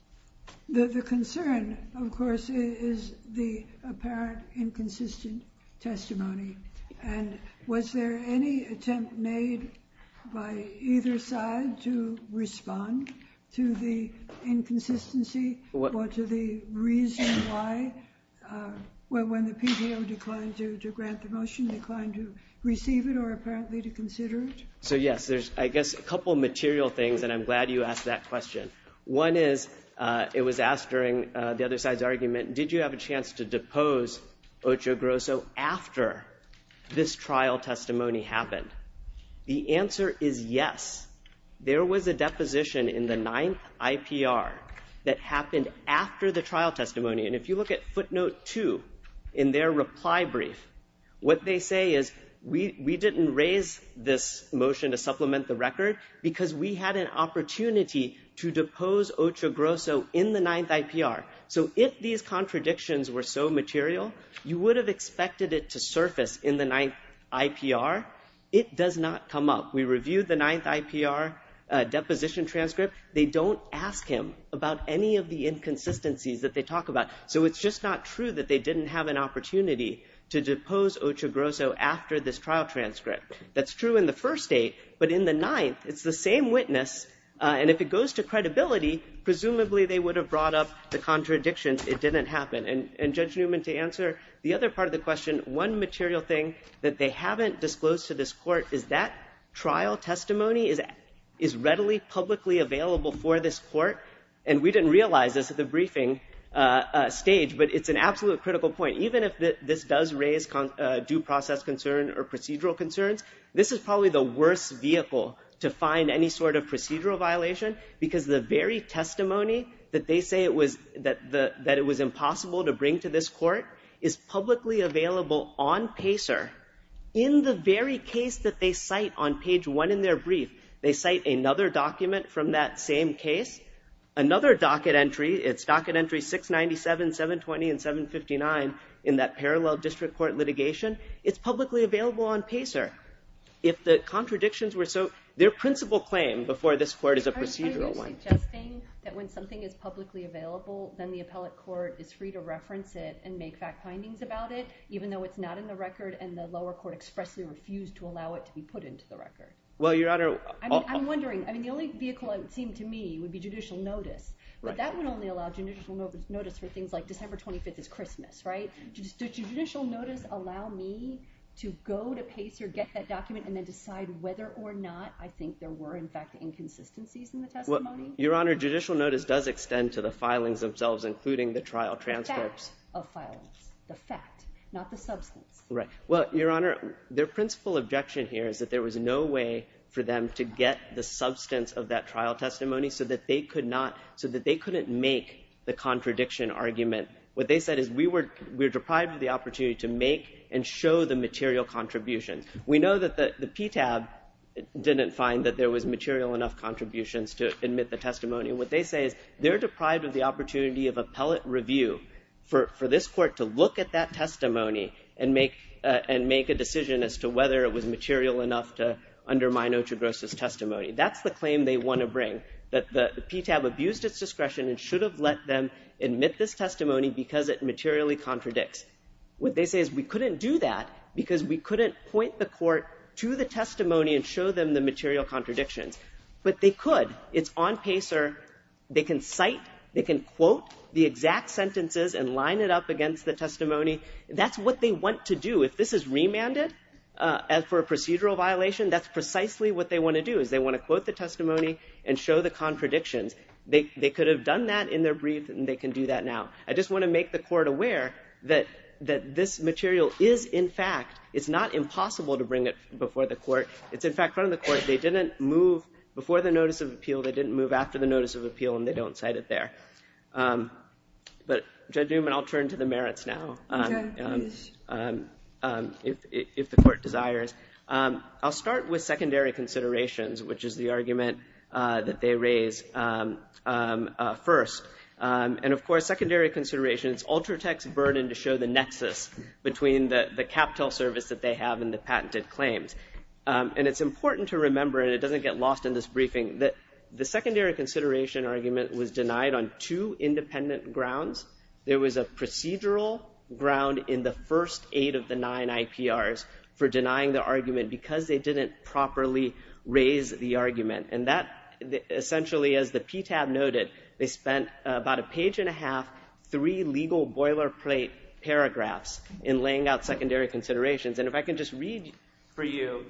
the concern, of course, is the apparent inconsistent testimony. And was there any attempt made by either side to respond to the inconsistency or to the reason why – when the PTO declined to grant the motion, declined to receive it or apparently to consider it? So, yes, there's, I guess, a couple material things, and I'm glad you asked that question. One is, it was asked during the other side's argument, did you have a chance to depose Ocho Grosso after this trial testimony happened? The answer is yes. There was a deposition in the ninth IPR that happened after the trial testimony. And if you look at footnote two in their reply brief, what they say is, we didn't raise this motion to supplement the record because we had an opportunity to depose Ocho Grosso in the ninth IPR. So if these contradictions were so material, you would have expected it to surface in the ninth IPR. It does not come up. We reviewed the ninth IPR deposition transcript. They don't ask him about any of the inconsistencies that they talk about. So it's just not true that they didn't have an opportunity to depose Ocho Grosso after this trial transcript. That's true in the first state, but in the ninth, it's the same witness. And if it goes to credibility, presumably they would have brought up the contradiction, it didn't happen. And Judge Newman, to answer the other part of the question, one material thing that they haven't disclosed to this court is that trial testimony is readily publicly available for this court. And we didn't realize this at the briefing stage, but it's an absolute critical point. Even if this does raise due process concern or procedural concerns, this is probably the worst vehicle to find any sort of procedural violation because the very testimony that they say that it was impossible to bring to this court is publicly available on PACER. In the very case that they cite on page one in their brief, they cite another document from that same case, another docket entry, it's docket entry 697, 720, and 759 in that parallel district court litigation. It's publicly available on PACER. If the contradictions were so – their principal claim before this court is a procedural one. Are you suggesting that when something is publicly available, then the appellate court is free to reference it and make fact findings about it, even though it's not in the record and the lower court expressly refused to allow it to be put into the record? Well, Your Honor – I'm wondering. I mean, the only vehicle it would seem to me would be judicial notice. But that would only allow judicial notice for things like December 25th is Christmas, right? Does judicial notice allow me to go to PACER, get that document, and then decide whether or not I think there were, in fact, inconsistencies in the testimony? Your Honor, judicial notice does extend to the filings themselves, including the trial transcripts. The fact of filings. The fact, not the substance. Right. Well, Your Honor, their principal objection here is that there was no way for them to get the substance of that trial testimony so that they could not – so that they couldn't make the contradiction argument. What they said is, we were deprived of the opportunity to make and show the material contribution. We know that the PTAB didn't find that there was material enough contributions to admit the testimony. What they say is, they're deprived of the opportunity of appellate review for this court to look at that testimony and make a decision as to whether it was material enough to undermine Ochoa Gross' testimony. That's the claim they want to bring, that the PTAB abused its discretion and should have let them admit this testimony because it materially contradicts. What they say is, we couldn't do that because we couldn't point the court to the testimony and show them the material contradiction. But they could. It's on PACER. They can cite, they can quote the exact sentences and line it up against the testimony. That's what they want to do. If this is remanded as for a procedural violation, that's precisely what they want to do, is they want to quote the testimony and show the contradiction. They could have done that in their brief, and they can do that now. I just want to make the court aware that this material is, in fact – it's not impossible to bring it before the court. It's, in fact, on the court. They didn't move before the notice of appeal. They didn't move after the notice of appeal, and they don't cite it there. But, Judge Newman, I'll turn to the merits now, if the court desires. I'll start with secondary considerations, which is the argument that they raised first. And, of course, secondary considerations, Ultratech's burden to show the nexus between the capital service that they have and the patented claims. And it's important to remember, and it doesn't get lost in this briefing, that the secondary consideration argument was denied on two independent grounds. There was a procedural ground in the first eight of the nine ITRs for denying the argument because they didn't properly raise the argument. And that, essentially, as the PTAB noted, they spent about a page and a half, three legal boilerplate paragraphs in laying out secondary considerations. And if I can just read for you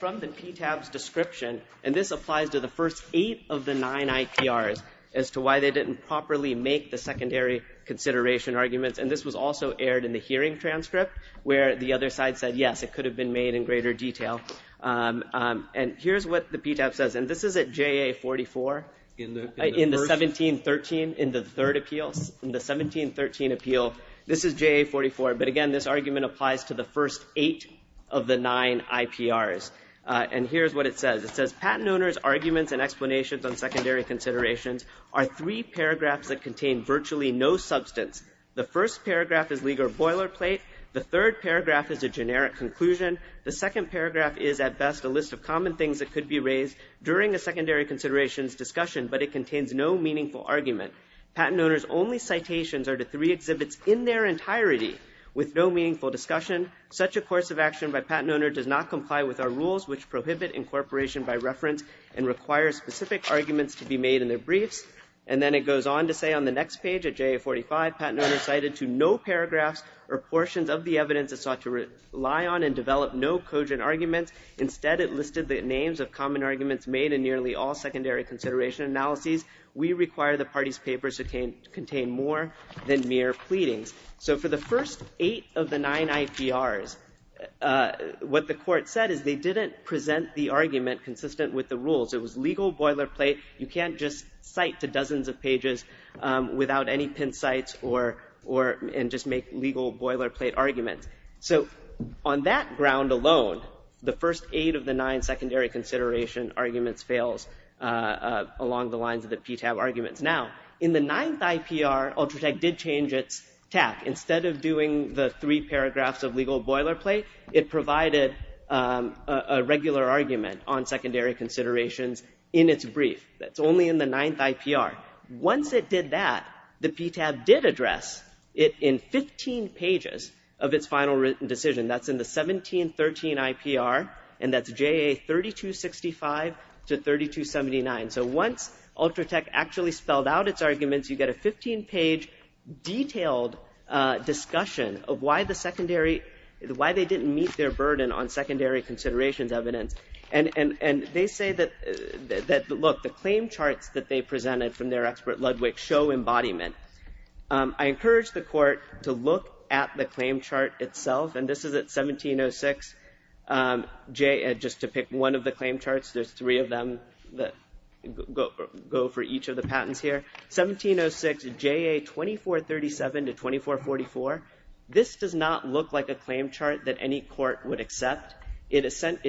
from the PTAB's description, and this applies to the first eight of the nine ITRs, as to why they didn't properly make the secondary consideration argument. And this was also aired in the hearing transcript, where the other side said, yes, it could have been made in greater detail. And here's what the PTAB says. And this is at JA44 in the 1713, in the third appeal. In the 1713 appeal, this is JA44. But, again, this argument applies to the first eight of the nine ITRs. And here's what it says. It says, patent owners' arguments and explanations on secondary considerations are three paragraphs that contain virtually no substance. The first paragraph is legal boilerplate. The third paragraph is a generic conclusion. The second paragraph is, at best, a list of common things that could be raised during a secondary considerations discussion, but it contains no meaningful argument. Patent owners' only citations are the three exhibits in their entirety with no meaningful discussion. Such a course of action by patent owners does not comply with our rules, which prohibit incorporation by reference and requires specific arguments to be made in their briefs. And then it goes on to say on the next page of JA45, patent owners cited to no paragraphs or portions of the evidence that sought to rely on and develop no cogent arguments. Instead, it listed the names of common arguments made in nearly all secondary consideration analyses. We require the parties' papers to contain more than mere pleadings. So for the first eight of the nine ITRs, what the court said is they didn't present the argument consistent with the rules. It was legal boilerplate. You can't just cite to dozens of pages without any pin sites and just make legal boilerplate arguments. So on that ground alone, the first eight of the nine secondary consideration arguments fails along the lines of the PTAB arguments. Now, in the ninth IPR, Ultratech did change its tab. Instead of doing the three paragraphs of legal boilerplate, it provided a regular argument on secondary considerations in its brief. That's only in the ninth IPR. Once it did that, the PTAB did address it in 15 pages of its final written decision. That's in the 1713 IPR, and that's JA3265 to 3279. So once Ultratech actually spelled out its arguments, you get a 15-page detailed discussion of why they didn't meet their burden on secondary considerations evidence. And they say that, look, the claim charts that they presented from their expert Ludwig show embodiment. I encourage the court to look at the claim chart itself, and this is at 1706. Just to pick one of the claim charts, there's three of them that go for each of the patents here. 1706 JA2437 to 2444, this does not look like a claim chart that any court would accept. It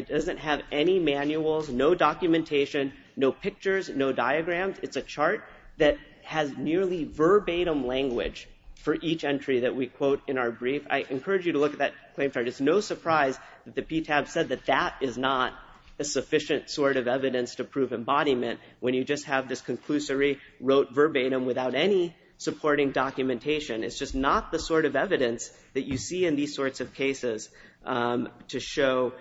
doesn't have any manuals, no documentation, no pictures, no diagrams. It's a chart that has nearly verbatim language for each entry that we quote in our brief. I encourage you to look at that claim chart. It's no surprise that the PTAB said that that is not a sufficient sort of evidence to prove embodiment when you just have this conclusory wrote verbatim without any supporting documentation. It's just not the sort of evidence that you see in these sorts of cases to show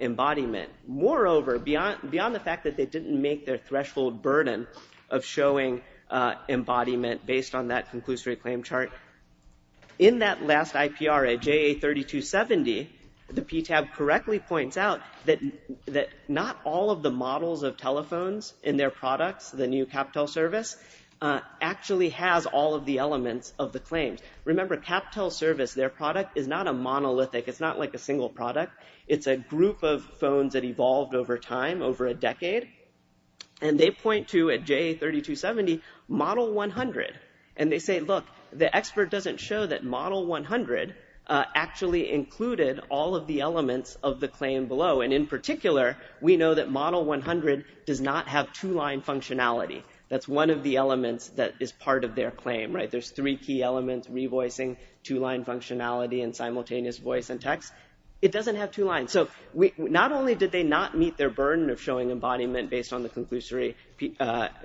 embodiment. Moreover, beyond the fact that they didn't make their threshold burden of showing embodiment based on that conclusory claim chart, in that last IPR at JA3270, the PTAB correctly points out that not all of the models of telephones in their products, the new CapTel service, actually has all of the elements of the claims. Remember, CapTel service, their product, is not a monolithic. It's not like a single product. It's a group of phones that evolved over time, over a decade. And they point to, at JA3270, model 100. And they say, look, the expert doesn't show that model 100 actually included all of the elements of the claim below. And in particular, we know that model 100 does not have two-line functionality. That's one of the elements that is part of their claim. There's three key elements, revoicing, two-line functionality, and simultaneous voice and text. It doesn't have two lines. So not only did they not meet their burden of showing embodiment based on the conclusory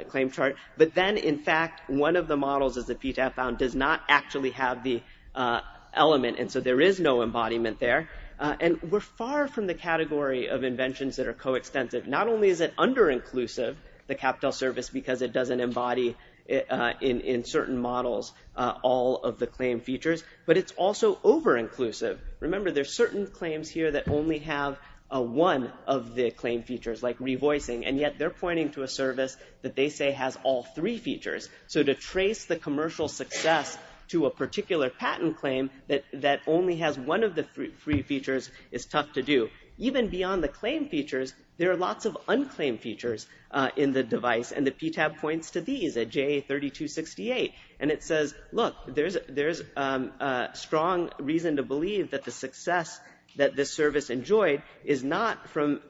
claim chart, but then, in fact, one of the models of the PTAB found does not actually have the element. And so there is no embodiment there. And we're far from the category of inventions that are coextensive. Not only is it under-inclusive, the CapTel service, because it doesn't embody in certain models all of the claim features, but it's also over-inclusive. Remember, there's certain claims here that only have one of the claim features, like revoicing, and yet they're pointing to a service that they say has all three features. So to trace the commercial success to a particular patent claim that only has one of the three features is tough to do. Even beyond the claim features, there are lots of unclaimed features in the device, and the PTAB points to these, at JA3268. And it says, look, there's a strong reason to believe that the success that this service enjoyed is not from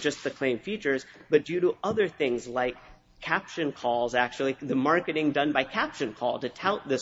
just the claim features, but due to other things like caption calls, actually, the marketing done by caption calls to tout the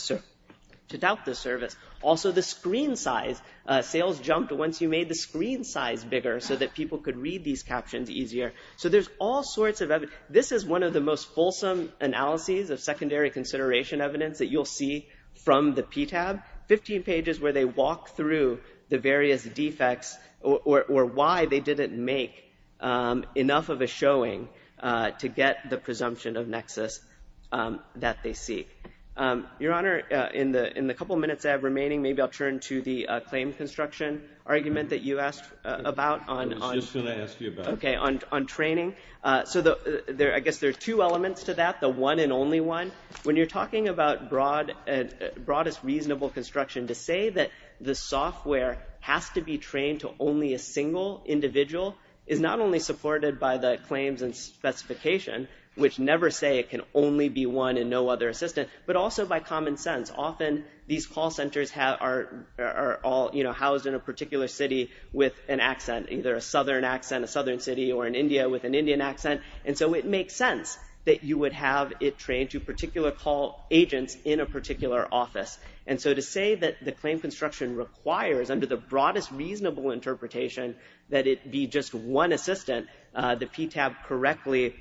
service. Also, the screen size. Sales jumped once you made the screen size bigger so that people could read these captions easier. So there's all sorts of evidence. This is one of the most fulsome analyses of secondary consideration evidence that you'll see from the PTAB, 15 pages where they walk through the various defects or why they didn't make enough of a showing to get the presumption of nexus that they seek. Your Honor, in the couple minutes that I have remaining, maybe I'll turn to the same construction argument that you asked about. Okay, on training. So I guess there's two elements to that, the one and only one. When you're talking about broadest reasonable construction, to say that the software has to be trained to only a single individual is not only supported by the claims and specification, which never say it can only be one and no other assistant, but also by common sense. Often these call centers are housed in a particular city with an accent, either a southern accent, a southern city, or in India with an Indian accent. And so it makes sense that you would have it trained to particular call agents in a particular office. And so to say that the claim construction requires under the broadest reasonable interpretation that it be just one assistant, the PTAB correctly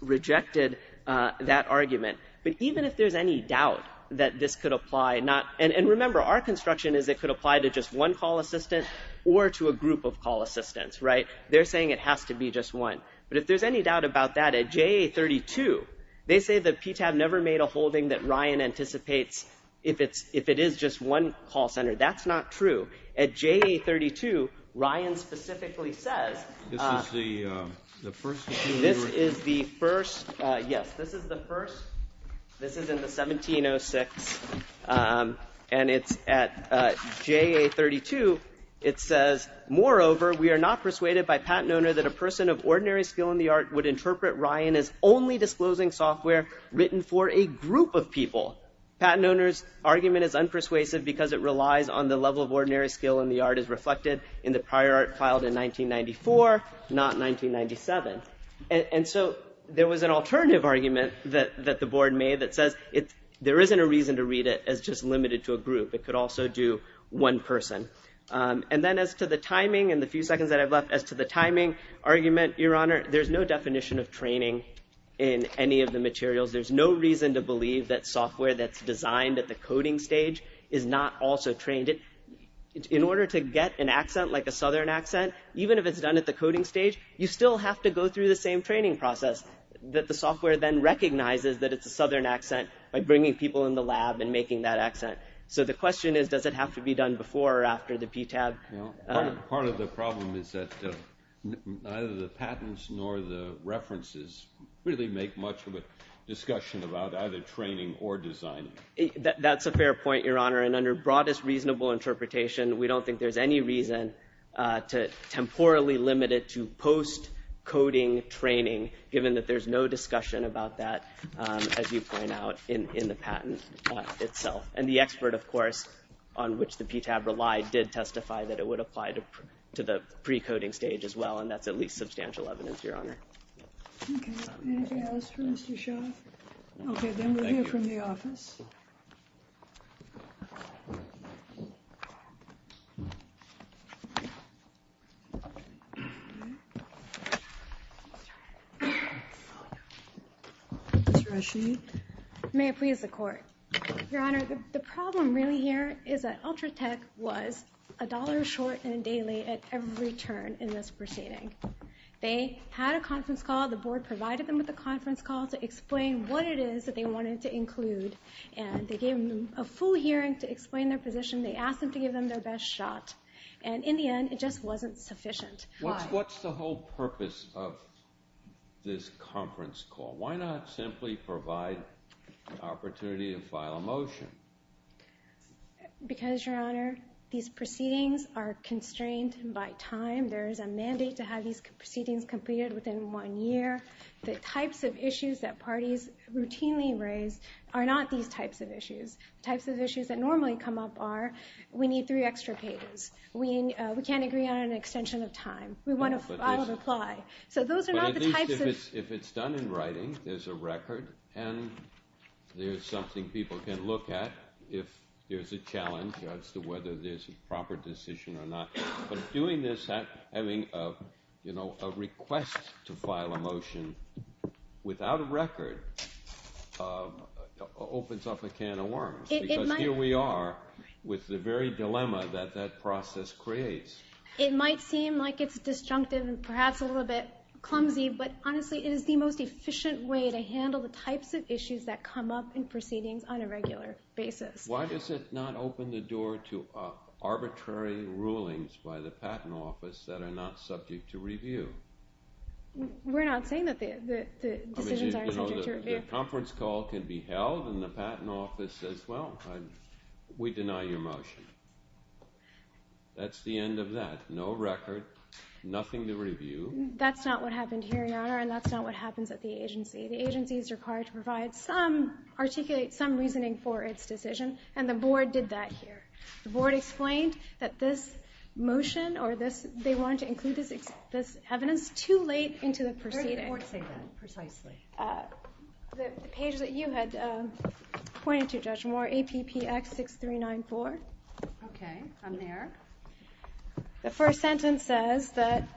rejected that argument. But even if there's any doubt that this could apply, and remember, our construction is it could apply to just one call assistant or to a group of call assistants, right? They're saying it has to be just one. But if there's any doubt about that, at JA32, they say the PTAB never made a holding that Ryan anticipates if it is just one call center. That's not true. At JA32, Ryan specifically says... Yes, this is the first. This is in the 1706, and it's at JA32. It says, moreover, we are not persuaded by patent owner that a person of ordinary skill in the art would interpret Ryan as only disclosing software written for a group of people. Patent owner's argument is unpersuasive because it relies on the level of ordinary skill in the art as reflected in the prior art filed in 1994, not 1997. And so there was an alternative argument that the board made that says there isn't a reason to read it as just limited to a group. It could also do one person. And then as to the timing and the few seconds that I have left, as to the timing argument, Your Honor, there's no definition of training in any of the materials. There's no reason to believe that software that's designed at the coding stage is not also trained. In order to get an accent like a southern accent, even if it's done at the coding stage, you still have to go through the same training process that the software then recognizes that it's a southern accent by bringing people in the lab and making that accent. So the question is, does it have to be done before or after the PTAB? Part of the problem is that neither the patents nor the references really make much of a discussion about either training or designing. That's a fair point, Your Honor, and under broadest reasonable interpretation, we don't think there's any reason to temporally limit it to post-coding training, given that there's no discussion about that, as you point out, in the patent itself. And the expert, of course, on which the PTAB relied did testify that it would apply to the pre-coding stage as well, and that's at least substantial evidence, Your Honor. Okay. Anything else for Mr. Shaw? Okay, then we'll hear from the office. Thank you. May I please have the court? Your Honor, the problem really here is that Ultratech was a dollar short and a day late at every turn in this proceeding. They had a conference call, the board provided them with a conference call to explain what it is that they wanted to include, and they gave them a full hearing to explain their position. They asked them to give them their best shot, and in the end, it just wasn't sufficient. Why? What's the whole purpose of this conference call? Why not simply provide an opportunity to file a motion? Because, Your Honor, these proceedings are constrained by time. There is a mandate to have these proceedings completed within one year. The types of issues that parties routinely raise are not these types of issues. The types of issues that normally come up are, we need three extra pages. We can't agree on an extension of time. We want to file and apply. So those are not the types of issues. If it's done in writing, there's a record, and there's something people can look at if there's a challenge as to whether there's a proper decision or not. But doing this, having a request to file a motion without a record, opens up a can of worms. Because here we are with the very dilemma that that process creates. It might seem like it's disjunctive and perhaps a little bit clumsy, but honestly, it is the most efficient way to handle the types of issues that come up in proceedings on a regular basis. Why does it not open the door to arbitrary rulings by the Patent Office that are not subject to review? We're not saying that the decisions are subject to review. The conference call can be held, and the Patent Office says, well, we deny your motion. That's the end of that. No record, nothing to review. That's not what happened here, Your Honor, and that's not what happens at the agency. The agency is required to articulate some reasoning for its decision, and the board did that here. The board explained that this motion or they wanted to include this evidence too late into the proceeding. Where did the board say that precisely? The page that you had pointed to, Judge Moore, APP Act 6394. Okay, I'm there. The first sentence says that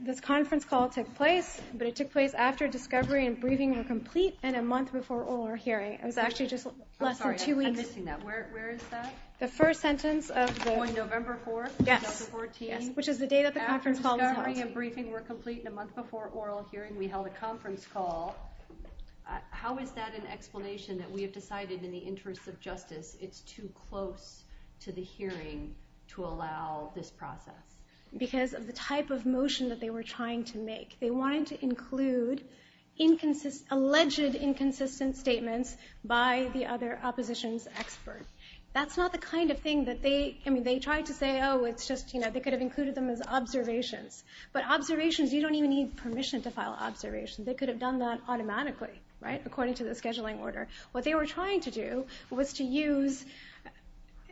this conference call took place, but it took place after discovery and briefing were complete and a month before oral hearing. It was actually just less than two weeks. I'm sorry, I'm missing that. Where is that? The first sentence of the – On November 4th? Yes. November 14th? Which is the date of the conference call. After discovery and briefing were complete and a month before oral hearing, we held a conference call. How is that an explanation that we have decided, in the interest of justice, it's too close to the hearing to allow this process? Because of the type of motion that they were trying to make. They wanted to include alleged inconsistent statements by the other opposition's experts. That's not the kind of thing that they – I mean, they tried to say, oh, it's just, you know, they could have included them as observations. But observations, you don't even need permission to file observations. They could have done that automatically, right, according to the scheduling order. What they were trying to do was to use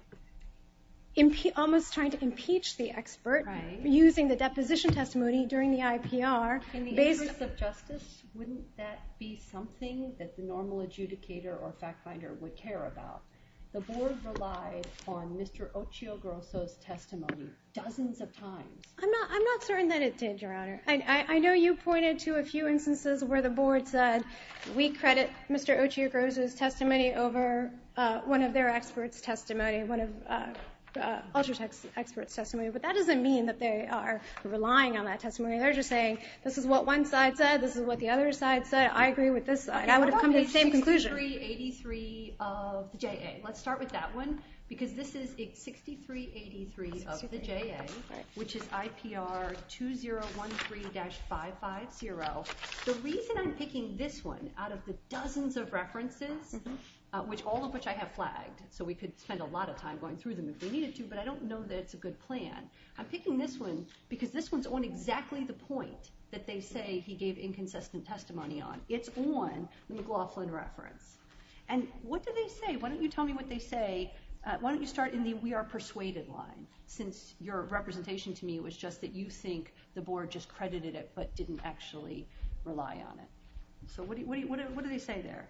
– almost trying to impeach the expert, using the deposition testimony during the IPR. In the interest of justice, wouldn't that be something that the normal adjudicator or fact finder would care about? The board relies on Mr. Ochoa-Grosso's testimony dozens of times. I'm not certain that it did, Your Honor. I know you pointed to a few instances where the board said, we credit Mr. Ochoa-Grosso's testimony over one of their experts' testimony, one of the other experts' testimony. But that doesn't mean that they are relying on that testimony. I heard you saying, this is what one side said, this is what the other side said. I agree with this side. I would have come to the same conclusion. 6383 of the JA. Let's start with that one because this is 6383 of the JA, which is IPR 2013-550. The reason I'm picking this one out of the dozens of references, all of which I have flagged so we could spend a lot of time going through them if we needed to, but I don't know that it's a good plan. I'm picking this one because this one's on exactly the point that they say he gave inconsistent testimony on. It's on the McLaughlin reference. And what do they say? Why don't you tell me what they say. Why don't you start in the we are persuaded line since your representation to me was just that you think the board just credited it but didn't actually rely on it. So what do they say there?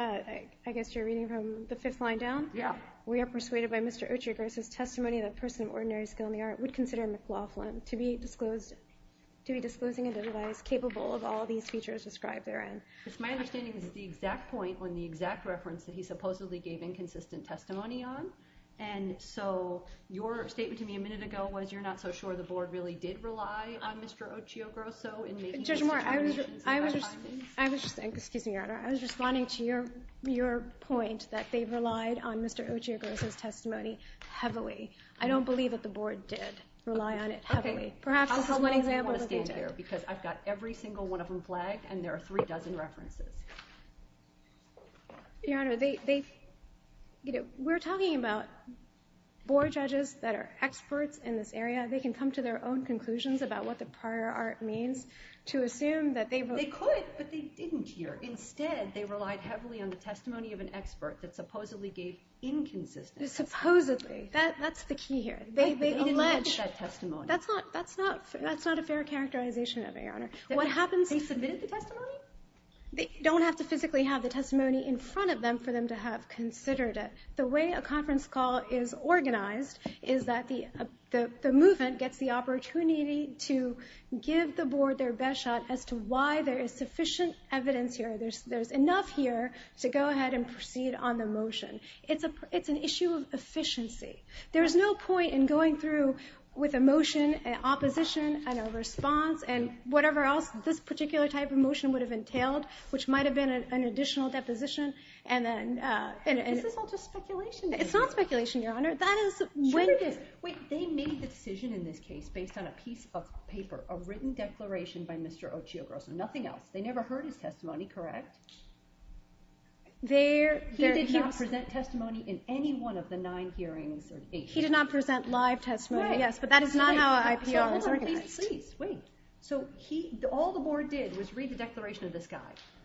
I guess you're reading from the fifth line down? Yeah. We are persuaded by Mr. Ochoa-Grosso's testimony that a person of ordinary skill in the art would consider Ms. Laughlin to be disclosing a device capable of all these features described therein. It's my understanding that it's the exact point on the exact reference that he supposedly gave inconsistent testimony on. And so your statement to me a minute ago was you're not so sure the board really did rely on Mr. Ochoa-Grosso. Judge Moore, I was just responding to your point that they relied on Mr. Ochoa-Grosso's testimony heavily. I don't believe that the board did rely on it heavily. Okay. Perhaps one example. Because I've got every single one of them flagged, and there are three dozen references. Your Honor, we're talking about board judges that are experts in this area. They can come to their own conclusions about what the prior art means to assume that they would. They could, but they didn't here. Instead, they relied heavily on the testimony of an expert that supposedly gave inconsistent. Supposedly. That's the key here. They alleged. That's not a fair characterization of it, Your Honor. They submitted the testimony? They don't have to physically have the testimony in front of them for them to have considered it. The way a conference call is organized is that the movement gets the opportunity to give the board their best shot as to why there is sufficient evidence here. There's enough here to go ahead and proceed on the motion. It's an issue of efficiency. There's no point in going through with a motion, an opposition, and a response, and whatever else this particular type of motion would have entailed, which might have been an additional deposition. This is all just speculation. It's not speculation, Your Honor. Wait a minute. They made a decision in this case based on a piece of paper, a written declaration by Mr. Ochoa-Rosa. Nothing else. They never heard his testimony, correct? He did not present testimony in any one of the nine hearings. He did not present live testimony. Yes, but that is not how IPOs are organized. Wait. So all the board did was read the declaration of this guy.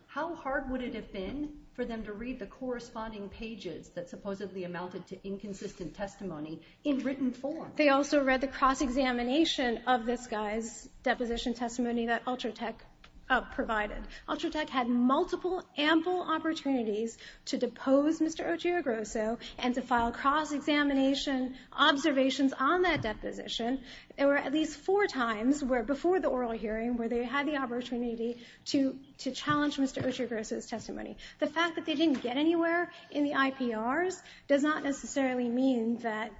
How hard would it have been for them to read the corresponding pages that supposedly amounted to inconsistent testimony in written form? They also read the cross-examination of this guy's deposition testimony that Ultratech provided. Ultratech had multiple ample opportunities to depose Mr. Ochoa-Rosa and to file cross-examination observations on that deposition. There were at least four times before the oral hearing where they had the opportunity to challenge Mr. Ochoa-Rosa's testimony. The fact that they didn't get anywhere in the IPRs does not necessarily mean that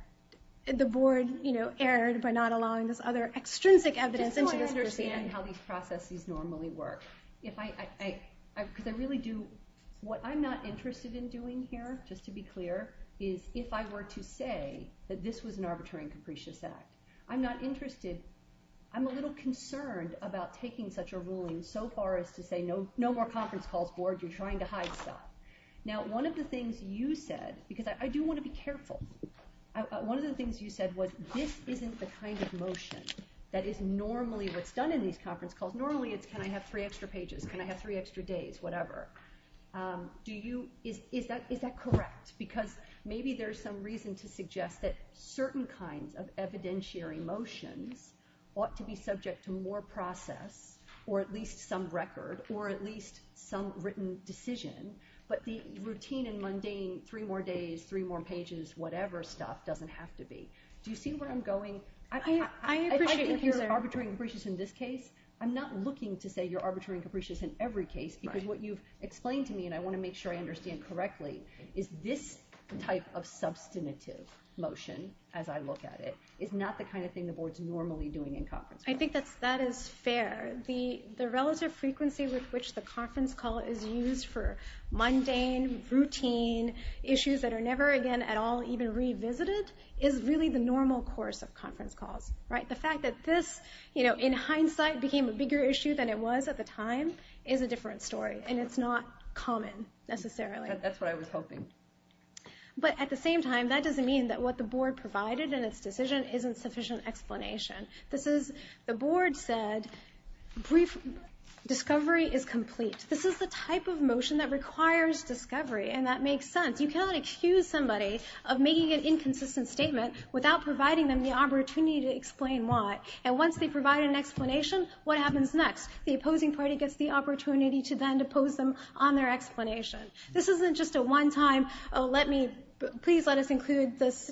the board, you know, erred by not allowing this other extrinsic evidence. I don't understand how these processes normally work. What I'm not interested in doing here, just to be clear, is if I were to say that this was an arbitrary and capricious act, I'm not interested. I'm a little concerned about taking such a ruling so far as to say, no more conference call, you're trying to hide stuff. Now, one of the things you said, because I do want to be careful, one of the things you said was this isn't the kind of motion that is normally what's done in these conference calls. Normally it's can I have three extra pages, can I have three extra days, whatever. Is that correct? Because maybe there's some reason to suggest that certain kinds of evidentiary motion ought to be subject to more process or at least some record or at least some written decision, but the routine and mundane three more days, three more pages, whatever stuff doesn't have to be. Do you see where I'm going? If you're arbitrary and capricious in this case, I'm not looking to say you're arbitrary and capricious in every case, because what you've explained to me, and I want to make sure I understand correctly, is this type of substantive motion, as I look at it, is not the kind of thing the board's normally doing in conference calls. I think that that is fair. The relative frequency with which the conference call is used for mundane, routine issues that are never again at all even revisited is really the nature of the conference call. The fact that this, in hindsight, became a bigger issue than it was at the time is a different story, and it's not common necessarily. That's what I was hoping. But at the same time, that doesn't mean that what the board provided in this decision isn't sufficient explanation. The board said discovery is complete. This is the type of motion that requires discovery, and that makes sense. You cannot excuse somebody of making an inconsistent statement without providing them the opportunity to explain why. And once they provide an explanation, what happens next? The opposing party gets the opportunity to then depose them on their explanation. This isn't just a one-time, please let us include this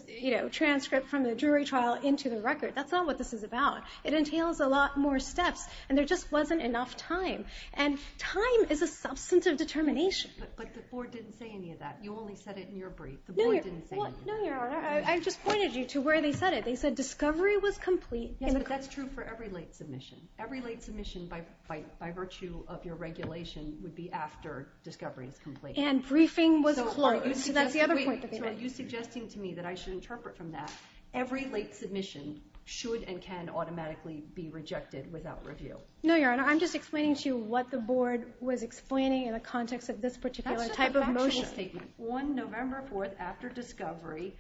transcript from the jury trial into the record. That's not what this is about. It entails a lot more steps, and there just wasn't enough time. And time is a substantive determination. But the board didn't say any of that. You only said it in your brief. The board didn't say anything. No, Your Honor, I just pointed you to where they said it. They said discovery was complete. That's true for every late submission. Every late submission, by virtue of your regulation, would be after discovery is complete. And briefing was closed. You're suggesting to me that I should interpret from that. Every late submission should and can automatically be rejected without review. No, Your Honor, I'm just explaining to you what the board was explaining in the context of this particular type of motion. On November 4th, after discovery,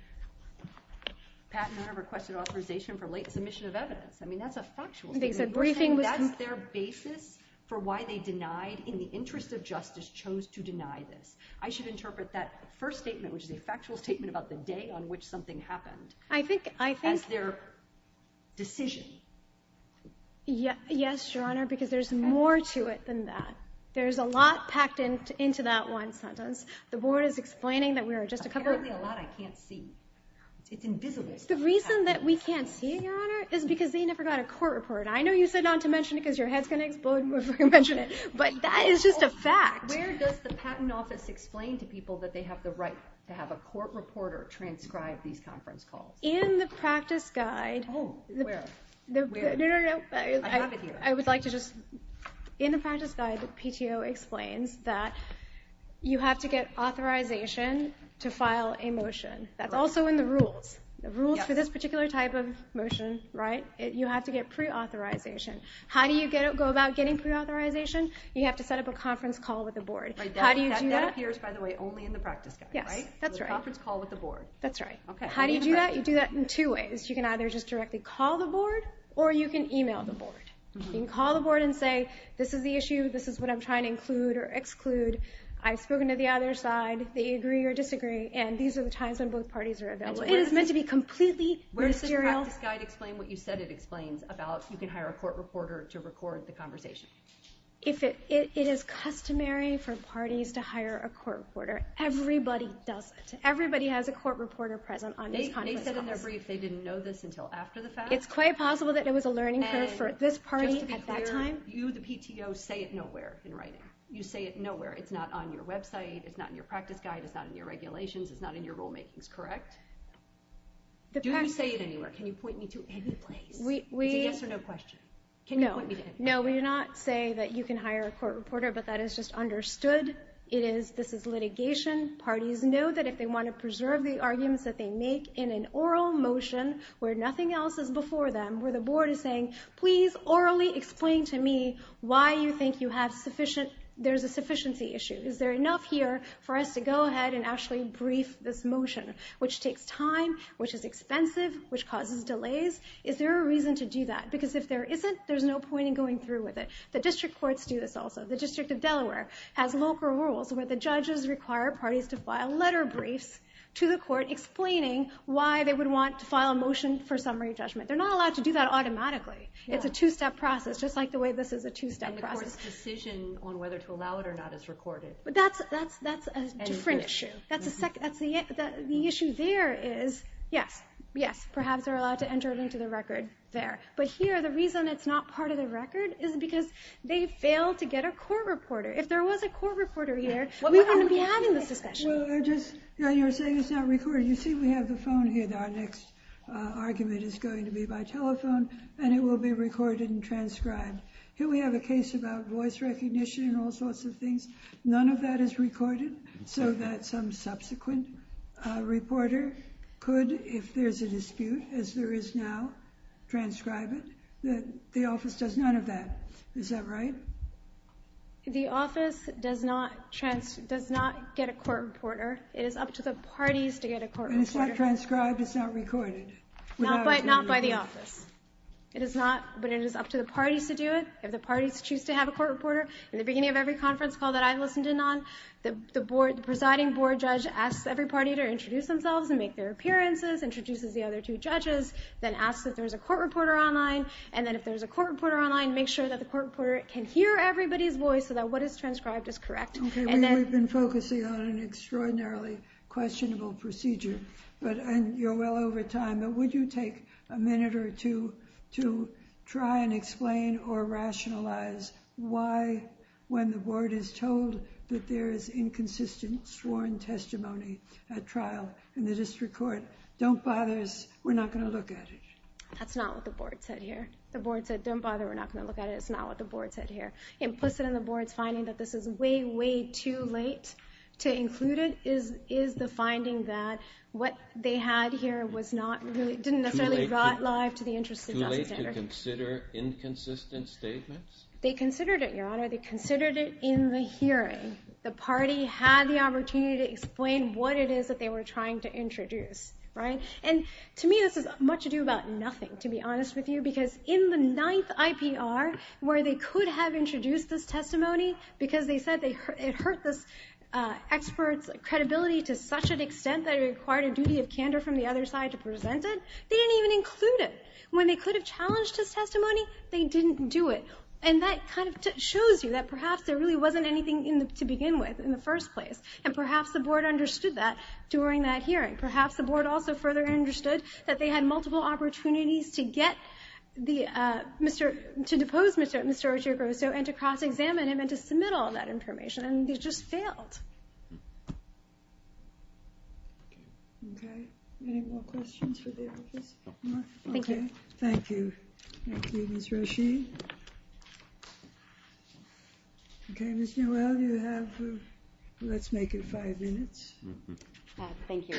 Pat and I requested authorization for late submission of evidence. I mean, that's a factual statement. That's their basis for why they denied, in the interest of justice, chose to deny this. I should interpret that first statement, which is a factual statement about the day on which something happened, as their decision. Yes, Your Honor, because there's more to it than that. There's a lot packed into that one sentence. The board is explaining that we are just a couple of- There's actually a lot I can't see. It's invisible. The reason that we can't see it, Your Honor, is because they never got a court report. I know you said not to mention it because your head's going to explode once we mention it, but that is just a fact. Where does the Patent Office explain to people that they have the right to have a court reporter transcribe these conference calls? In the practice guide- Oh, where? No, no, no. I would like to just- You have to get authorization to file a motion. That's also in the rules. The rules for this particular type of motion, right, you have to get pre-authorization. How do you go about getting pre-authorization? You have to set up a conference call with the board. That appears, by the way, only in the practice guide, right? Yeah, that's right. The conference call with the board. That's right. How do you do that? You do that in two ways. You can either just directly call the board or you can email the board. You can call the board and say, this is the issue, this is what I'm trying to include or exclude. I've spoken to the other side, they agree or disagree, and these are the times when both parties are available. It is meant to be completely ministerial. Where does the practice guide explain what you said it explains about you can hire a court reporter to record the conversation? It is customary for parties to hire a court reporter. Everybody does. Everybody has a court reporter present on a conference call. They said in their brief they didn't know this until after the fact. It's quite possible that it was a learning curve for this party at that time. Just to be clear, you, the PTO, say it nowhere in writing. You say it nowhere. It's not on your website. It's not in your practice guide. It's not in your regulations. It's not in your rulemaking. Is this correct? Do you have to say it anywhere? Can you point me to any place? You can answer no questions. No, we do not say that you can hire a court reporter, but that is just understood. This is litigation. Parties know that if they want to preserve the arguments that they make in an oral motion where nothing else is before them, where the board is saying, please orally explain to me why you think you have sufficient, there's a sufficiency issue. Is there enough here for us to go ahead and actually brief this motion, which takes time, which is expensive, which causes delays? Is there a reason to do that? Because if there isn't, there's no point in going through with it. The district courts do this also. The District of Delaware has local rules where the judges require parties to file letter briefs to the court explaining why they would want to file a motion for summary judgment. They're not allowed to do that automatically. It's a two-step process, just like the way this is a two-step process. The court's decision on whether to allow it or not is recorded. That's a different issue. The issue there is, yes, perhaps they're allowed to enter it into the record there, but here the reason it's not part of the record is because they failed to get a court reporter. If there was a court reporter here, we wouldn't be having this discussion. You were saying it's not recorded. You see we have the phone here. Our next argument is going to be by telephone, and it will be recorded and transcribed. Here we have a case about voice recognition and all sorts of things. None of that is recorded so that some subsequent reporter could, if there's a dispute, as there is now, transcribe it. The office does none of that. Is that right? The office does not get a court reporter. It is up to the parties to get a court reporter. It's not transcribed. It's not recorded. Not by the office. It is not, but it is up to the parties to do it. If the parties choose to have a court reporter, at the beginning of every conference call that I listened in on, the presiding board judge asks every party to introduce themselves and make their appearances, introduces the other two judges, then asks if there's a court reporter online, and then if there's a court reporter online, make sure that the court reporter can hear everybody's voice about what is transcribed is correct. We've been focusing on an extraordinarily questionable procedure, but you're well over time. Would you take a minute or two to try and explain or rationalize why, when the board is told that there is inconsistent sworn testimony at trial in the district court, don't bother, we're not going to look at it? That's not what the board said here. The board said, don't bother, we're not going to look at it. That's not what the board said here. It's implicit in the board's finding that this is way, way too late to include it, is the finding that what they had here was not really, didn't necessarily got live to the interest of the auditor. Too late to consider inconsistent statements? They considered it, Your Honor. They considered it in the hearing. The party had the opportunity to explain what it is that they were trying to introduce, right? And to me, this has much to do about nothing, to be honest with you, because in the ninth IPR where they could have introduced this testimony because they said it hurt the expert's credibility to such an extent that it required a duty of candor from the other side to present it, they didn't even include it. When they could have challenged this testimony, they didn't do it. And that kind of shows you that perhaps there really wasn't anything to begin with in the first place. And perhaps the board understood that during that hearing. Perhaps the board also further understood that they had multiple opportunities to get the, to depose Mr. Orsiero-Grosso, and to cross-examine him, and to submit all that information. And they just failed. Okay. Any more questions? Okay. Thank you. Thank you, Ms. Rasheed. Okay, Ms. Newell, you have, let's make it five minutes. Thank you.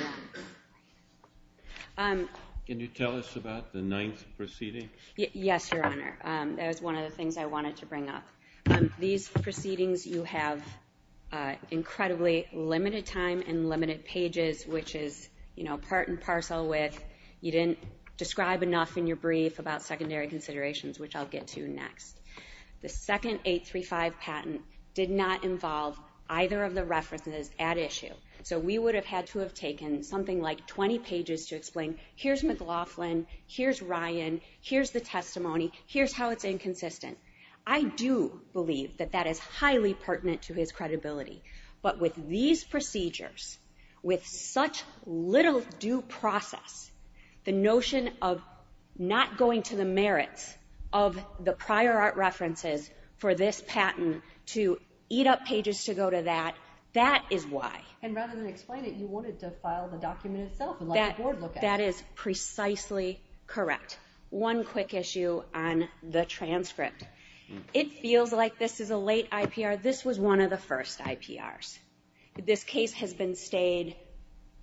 Can you tell us about the ninth proceeding? Yes, Your Honor. That was one of the things I wanted to bring up. These proceedings, you have incredibly limited time and limited pages, which is, you know, part and parcel with you didn't describe enough in your brief about secondary considerations, which I'll get to next. The second 835 patent did not involve either of the references at issue. So we would have had to have taken something like 20 pages to explain, here's Ms. Laughlin, here's Ryan, here's the testimony, here's how it's inconsistent. I do believe that that is highly pertinent to his credibility. But with these procedures, with such little due process, the notion of not going to the merits of the prior art references for this patent to eat up pages to go to that, that is why. And rather than explain it, you wanted to file the document itself. That is precisely correct. One quick issue on the transcript. It feels like this is a late IPR. This was one of the first IPRs. This case has been stayed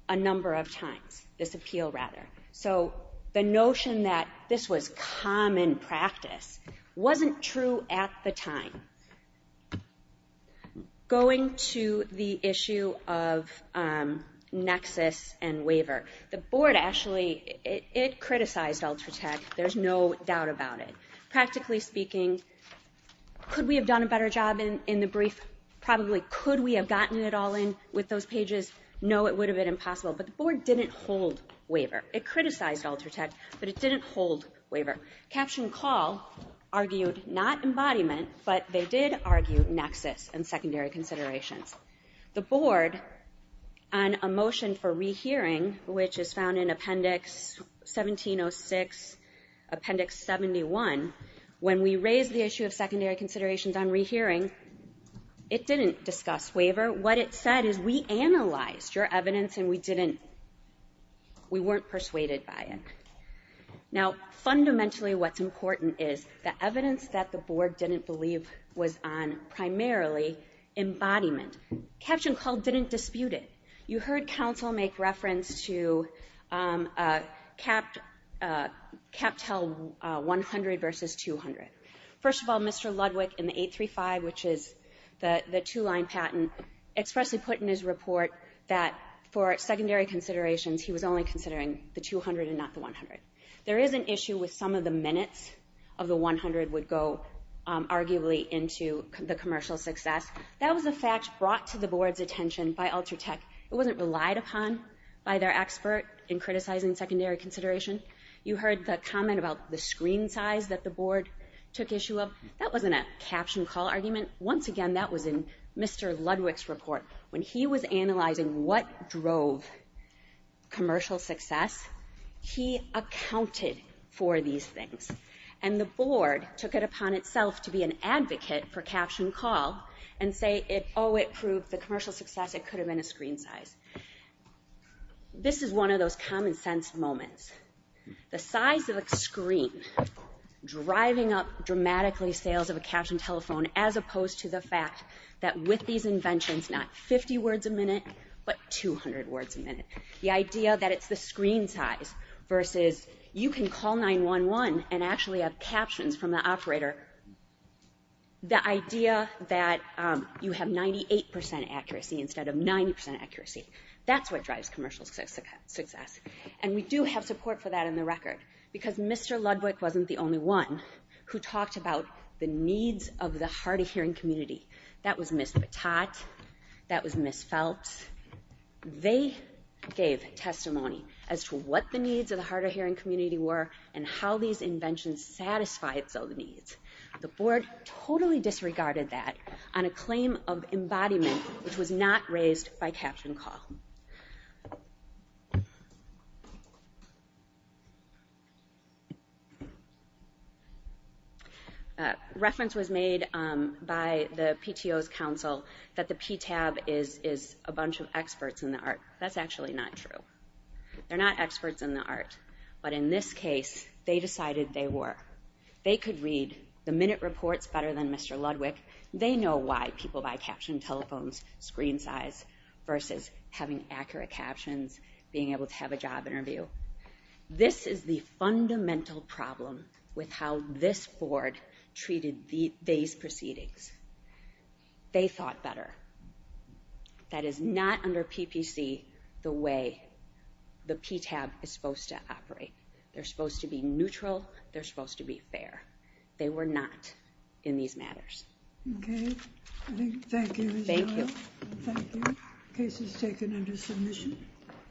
a number of times, this appeal rather. So the notion that this was common practice wasn't true at the time. Going to the issue of nexus and waiver. The board actually, it criticized Ultratext. There's no doubt about it. Practically speaking, could we have done a better job in the brief? Probably could we have gotten it all in with those pages? No, it would have been impossible. But the board didn't hold waiver. It criticized Ultratext, but it didn't hold waiver. Caption Call argued not embodiment, but they did argue nexus and secondary considerations. The board, on a motion for rehearing, which is found in Appendix 1706, Appendix 71, when we raised the issue of secondary considerations on rehearing, it didn't discuss waiver. What it said is we analyzed your evidence and we didn't, we weren't persuaded by it. Now, fundamentally what's important is the evidence that the board didn't believe was on primarily embodiment. Caption Call didn't dispute it. You heard counsel make reference to CapTel 100 versus 200. First of all, Mr. Ludwig in the 835, which is the two-line patent, expressly put in his report that for secondary considerations, he was only considering the 200 and not the 100. There is an issue with some of the minutes of the 100 would go, arguably, into the commercial success. That was a fact brought to the board's attention by Ultratext. It wasn't relied upon by their expert in criticizing secondary considerations. You heard the comment about the screen size that the board took issue of. That wasn't a Caption Call argument. Once again, that was in Mr. Ludwig's report. When he was analyzing what drove commercial success, he accounted for these things. And the board took it upon itself to be an advocate for Caption Call and say, if, oh, it proved the commercial success, it could have been a screen size. This is one of those common sense moments. The size of a screen driving up dramatically sales of a captioned telephone as opposed to the fact that with these inventions, not 50 words a minute, but 200 words a minute. The idea that it's the screen size versus you can call 911 and actually have captions from the operator. The idea that you have 98% accuracy instead of 90% accuracy, that's what drives commercial success. And we do have support for that in the record because Mr. Ludwig wasn't the only one who talked about the needs of the hard-of-hearing community. That was Ms. Patak. That was Ms. Phelps. They gave testimony as to what the needs of the hard-of-hearing community were and how these inventions satisfied those needs. The board totally disregarded that on a claim of embodiment which was not raised by Caption Call. A reference was made by the PTO's counsel that the PTAB is a bunch of experts in the art. That's actually not true. They're not experts in the art. But in this case, they decided they were. They could read the minute reports better than Mr. Ludwig. They know why people buy captioned telephones, screen size, versus having accurate captions, being able to have a job interview. This is the fundamental problem with how this board treated these proceedings. They thought better. That is not, under PPC, the way the PTAB is supposed to operate. They're supposed to be neutral. They're supposed to be fair. They were not in these matters. Okay. Thank you. Thank you. Case is taken under submission.